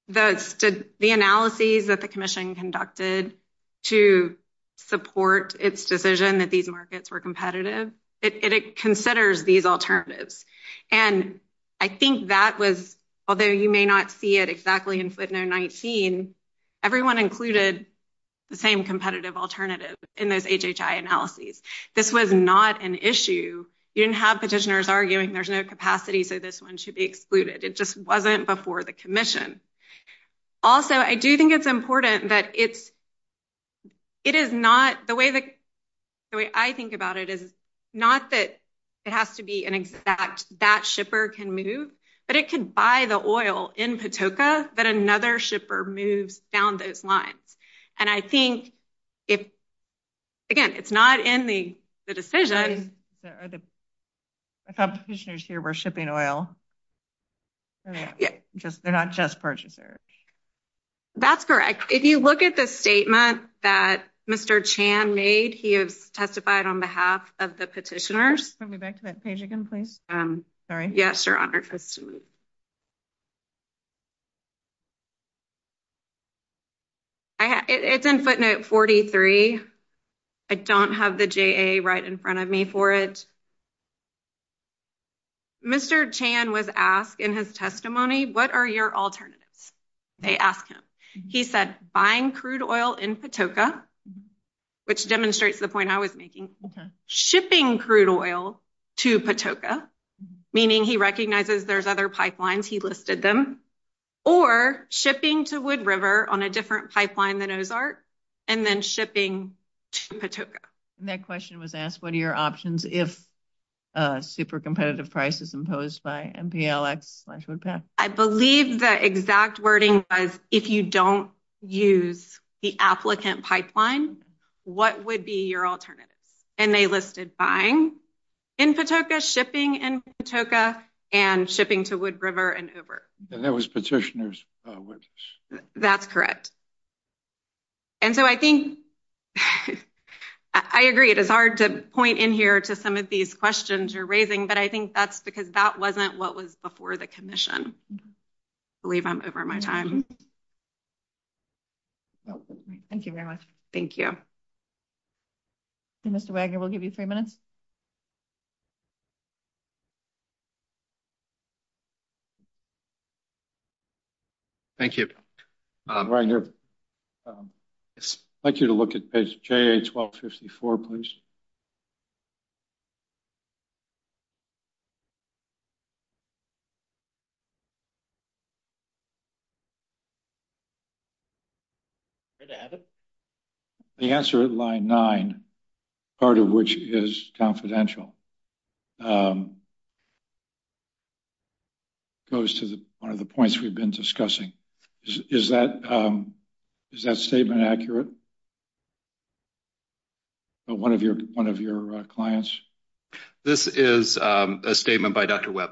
The analysis that the commission conducted. To support its decision that these markets were competitive. It considers these alternatives and. I think that was, although you may not see it exactly in 19. Everyone included the same competitive alternative in those analyses. This was not an issue. You didn't have petitioners arguing. There's no capacity for this 1 should be excluded. It just wasn't before the commission. Also, I do think it's important that it's. It is not the way that I think about it is. Not that it has to be an exact that shipper can move. But it can buy the oil in Patoka, but another shipper moves down those lines. And I think if, again, it's not in the decision. We're shipping oil. Yeah, just they're not just purchasers. That's correct. If you look at the statement that Mr. Chan made, he has testified on behalf of the petitioners. I'll be back to that page again. Please. Sorry. Yeah, sure. It's in footnote 43. I don't have the right in front of me for it. Mr. Chan was asked in his testimony. What are your alternatives? They asked him, he said, buying crude oil in Patoka. Which demonstrates the point I was making shipping crude oil. To Patoka, meaning he recognizes there's other pipelines. He listed them. Or shipping to wood river on a different pipeline than Ozarks. And then shipping that question was asked. What are your options? If. Super competitive prices imposed by. I believe the exact wording is, if you don't use the applicant pipeline. What would be your alternative? And they listed buying. In Patoka shipping in Patoka and shipping to wood river and over there was petitioners. That's correct. And so I think. I agree. It is hard to point in here to some of these questions you're raising, but I think that's because that wasn't what was before the commission. I believe I'm over my time. Thank you very much. Thank you. Mr. Wagner will give you 3 minutes. Thank you. Thank you to look at page 1254, please. The answer line 9. Part of which is confidential. Goes to the 1 of the points we've been discussing is that. Is that statement accurate? But 1 of your 1 of your clients. This is a statement by Dr. web.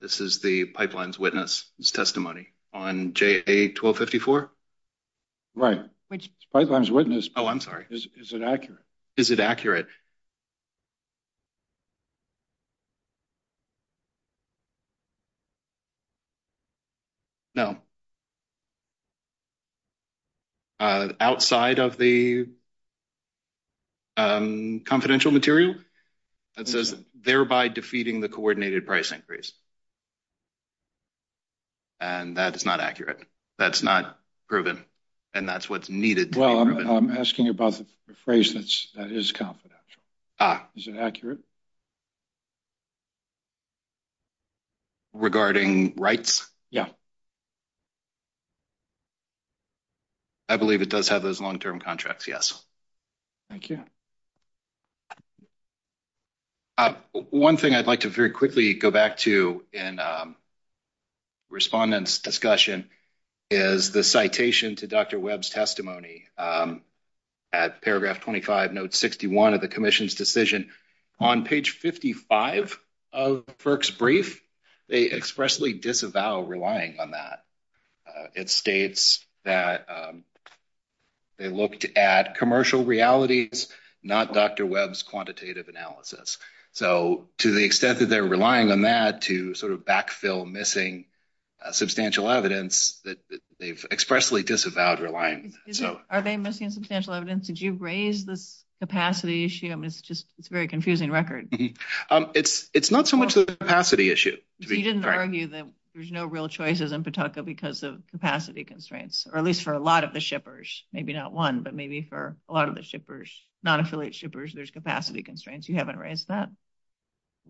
This is the pipelines witness testimony on 1254. Right. Oh, I'm sorry. Is it accurate? Is it accurate? No. Outside of the. Confidential material. And so, thereby defeating the coordinated price increase. And that's not accurate. That's not proven. And that's what's needed. Well, I'm asking about the phrase that is confidential. Is it accurate regarding rights? Yeah. I believe it does have those long term contracts. Yes. Thank you. 1 thing I'd like to very quickly go back to and. Respondents discussion is the citation to Dr. web's testimony. At paragraph 25 note 61 of the commission's decision. On page 55 of perks brief. They expressly disavow relying on that. It states that. They looked at commercial reality. Not Dr. web's quantitative analysis. So, to the extent that they're relying on that to sort of backfill missing. Substantial evidence that they've expressly disavowed relying. So, are they missing substantial evidence? Did you raise the. Capacity issue is just very confusing record. It's not so much the capacity issue. You didn't argue that there's no real choices and because of capacity constraints, or at least for a lot of the shippers, maybe not 1, but maybe for a lot of the shippers, not affiliate shippers. There's capacity constraints. You haven't raised that.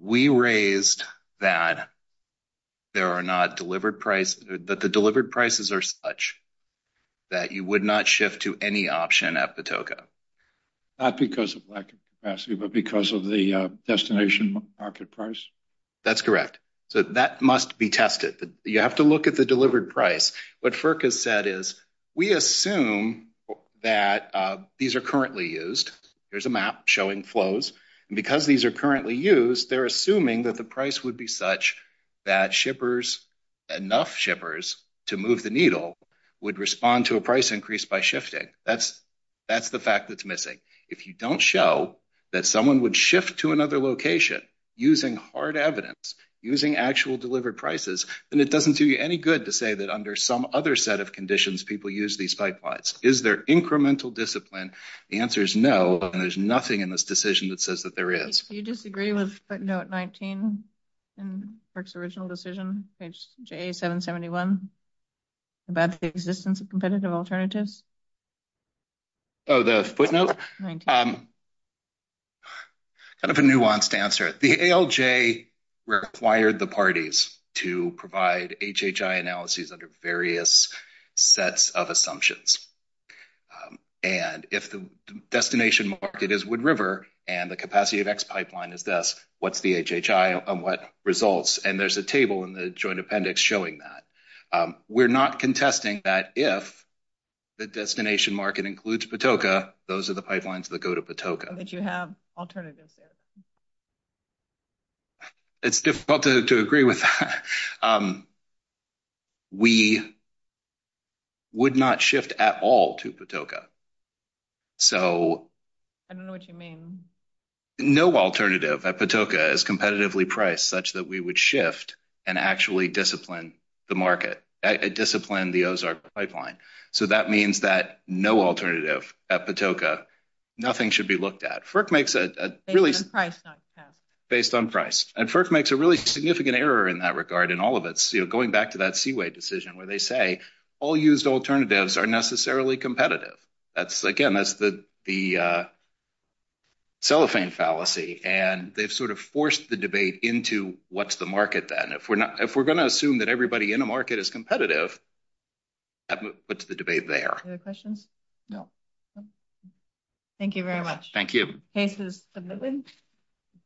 We raised that. There are not delivered price that the delivered prices are such. That you would not shift to any option at the token. Not because of lack of capacity, but because of the destination market price. That's correct. So that must be tested. You have to look at the delivered price. What has said is we assume that these are currently used. There's a map showing flows because these are currently used. They're assuming that the price would be such that shippers. Enough shippers to move the needle would respond to a price increase by shifting. That's the fact that's missing. If you don't show that someone would shift to another location, using hard evidence, using actual delivered prices, and it doesn't do you any good to say that under some other set of conditions, people use these pipelines. Is there incremental discipline? The answer is no, and there's nothing in this decision that says that there is. Do you disagree with footnote 19 in the original decision, page 8771, about the existence of competitive alternatives? Oh, the footnote? Kind of a nuanced answer. The ALJ required the parties to provide HHI analyses under various sets of assumptions. And if the destination market is Wood River, and the capacity of X pipeline is this, what's the HHI on what results? And there's a table in the joint appendix showing that. We're not contesting that if the destination market includes Patoka, those are the pipelines that go to Patoka. But you have alternatives. It's difficult to agree with. We would not shift at all to Patoka. No alternative at Patoka is competitively priced such that we would shift and actually discipline the market, discipline the Ozark pipeline. So that means that no alternative at Patoka, nothing should be looked at. Based on price. Based on price. And FERC makes a really significant error in that regard in all of it. Going back to that Seaway decision where they say, all used alternatives are necessarily competitive. Again, that's the cellophane fallacy. And they've sort of forced the debate into what's the market then. If we're going to assume that everybody in a market is competitive, what's the debate there? Any other questions? No. Thank you very much. Thank you. Case is submitted.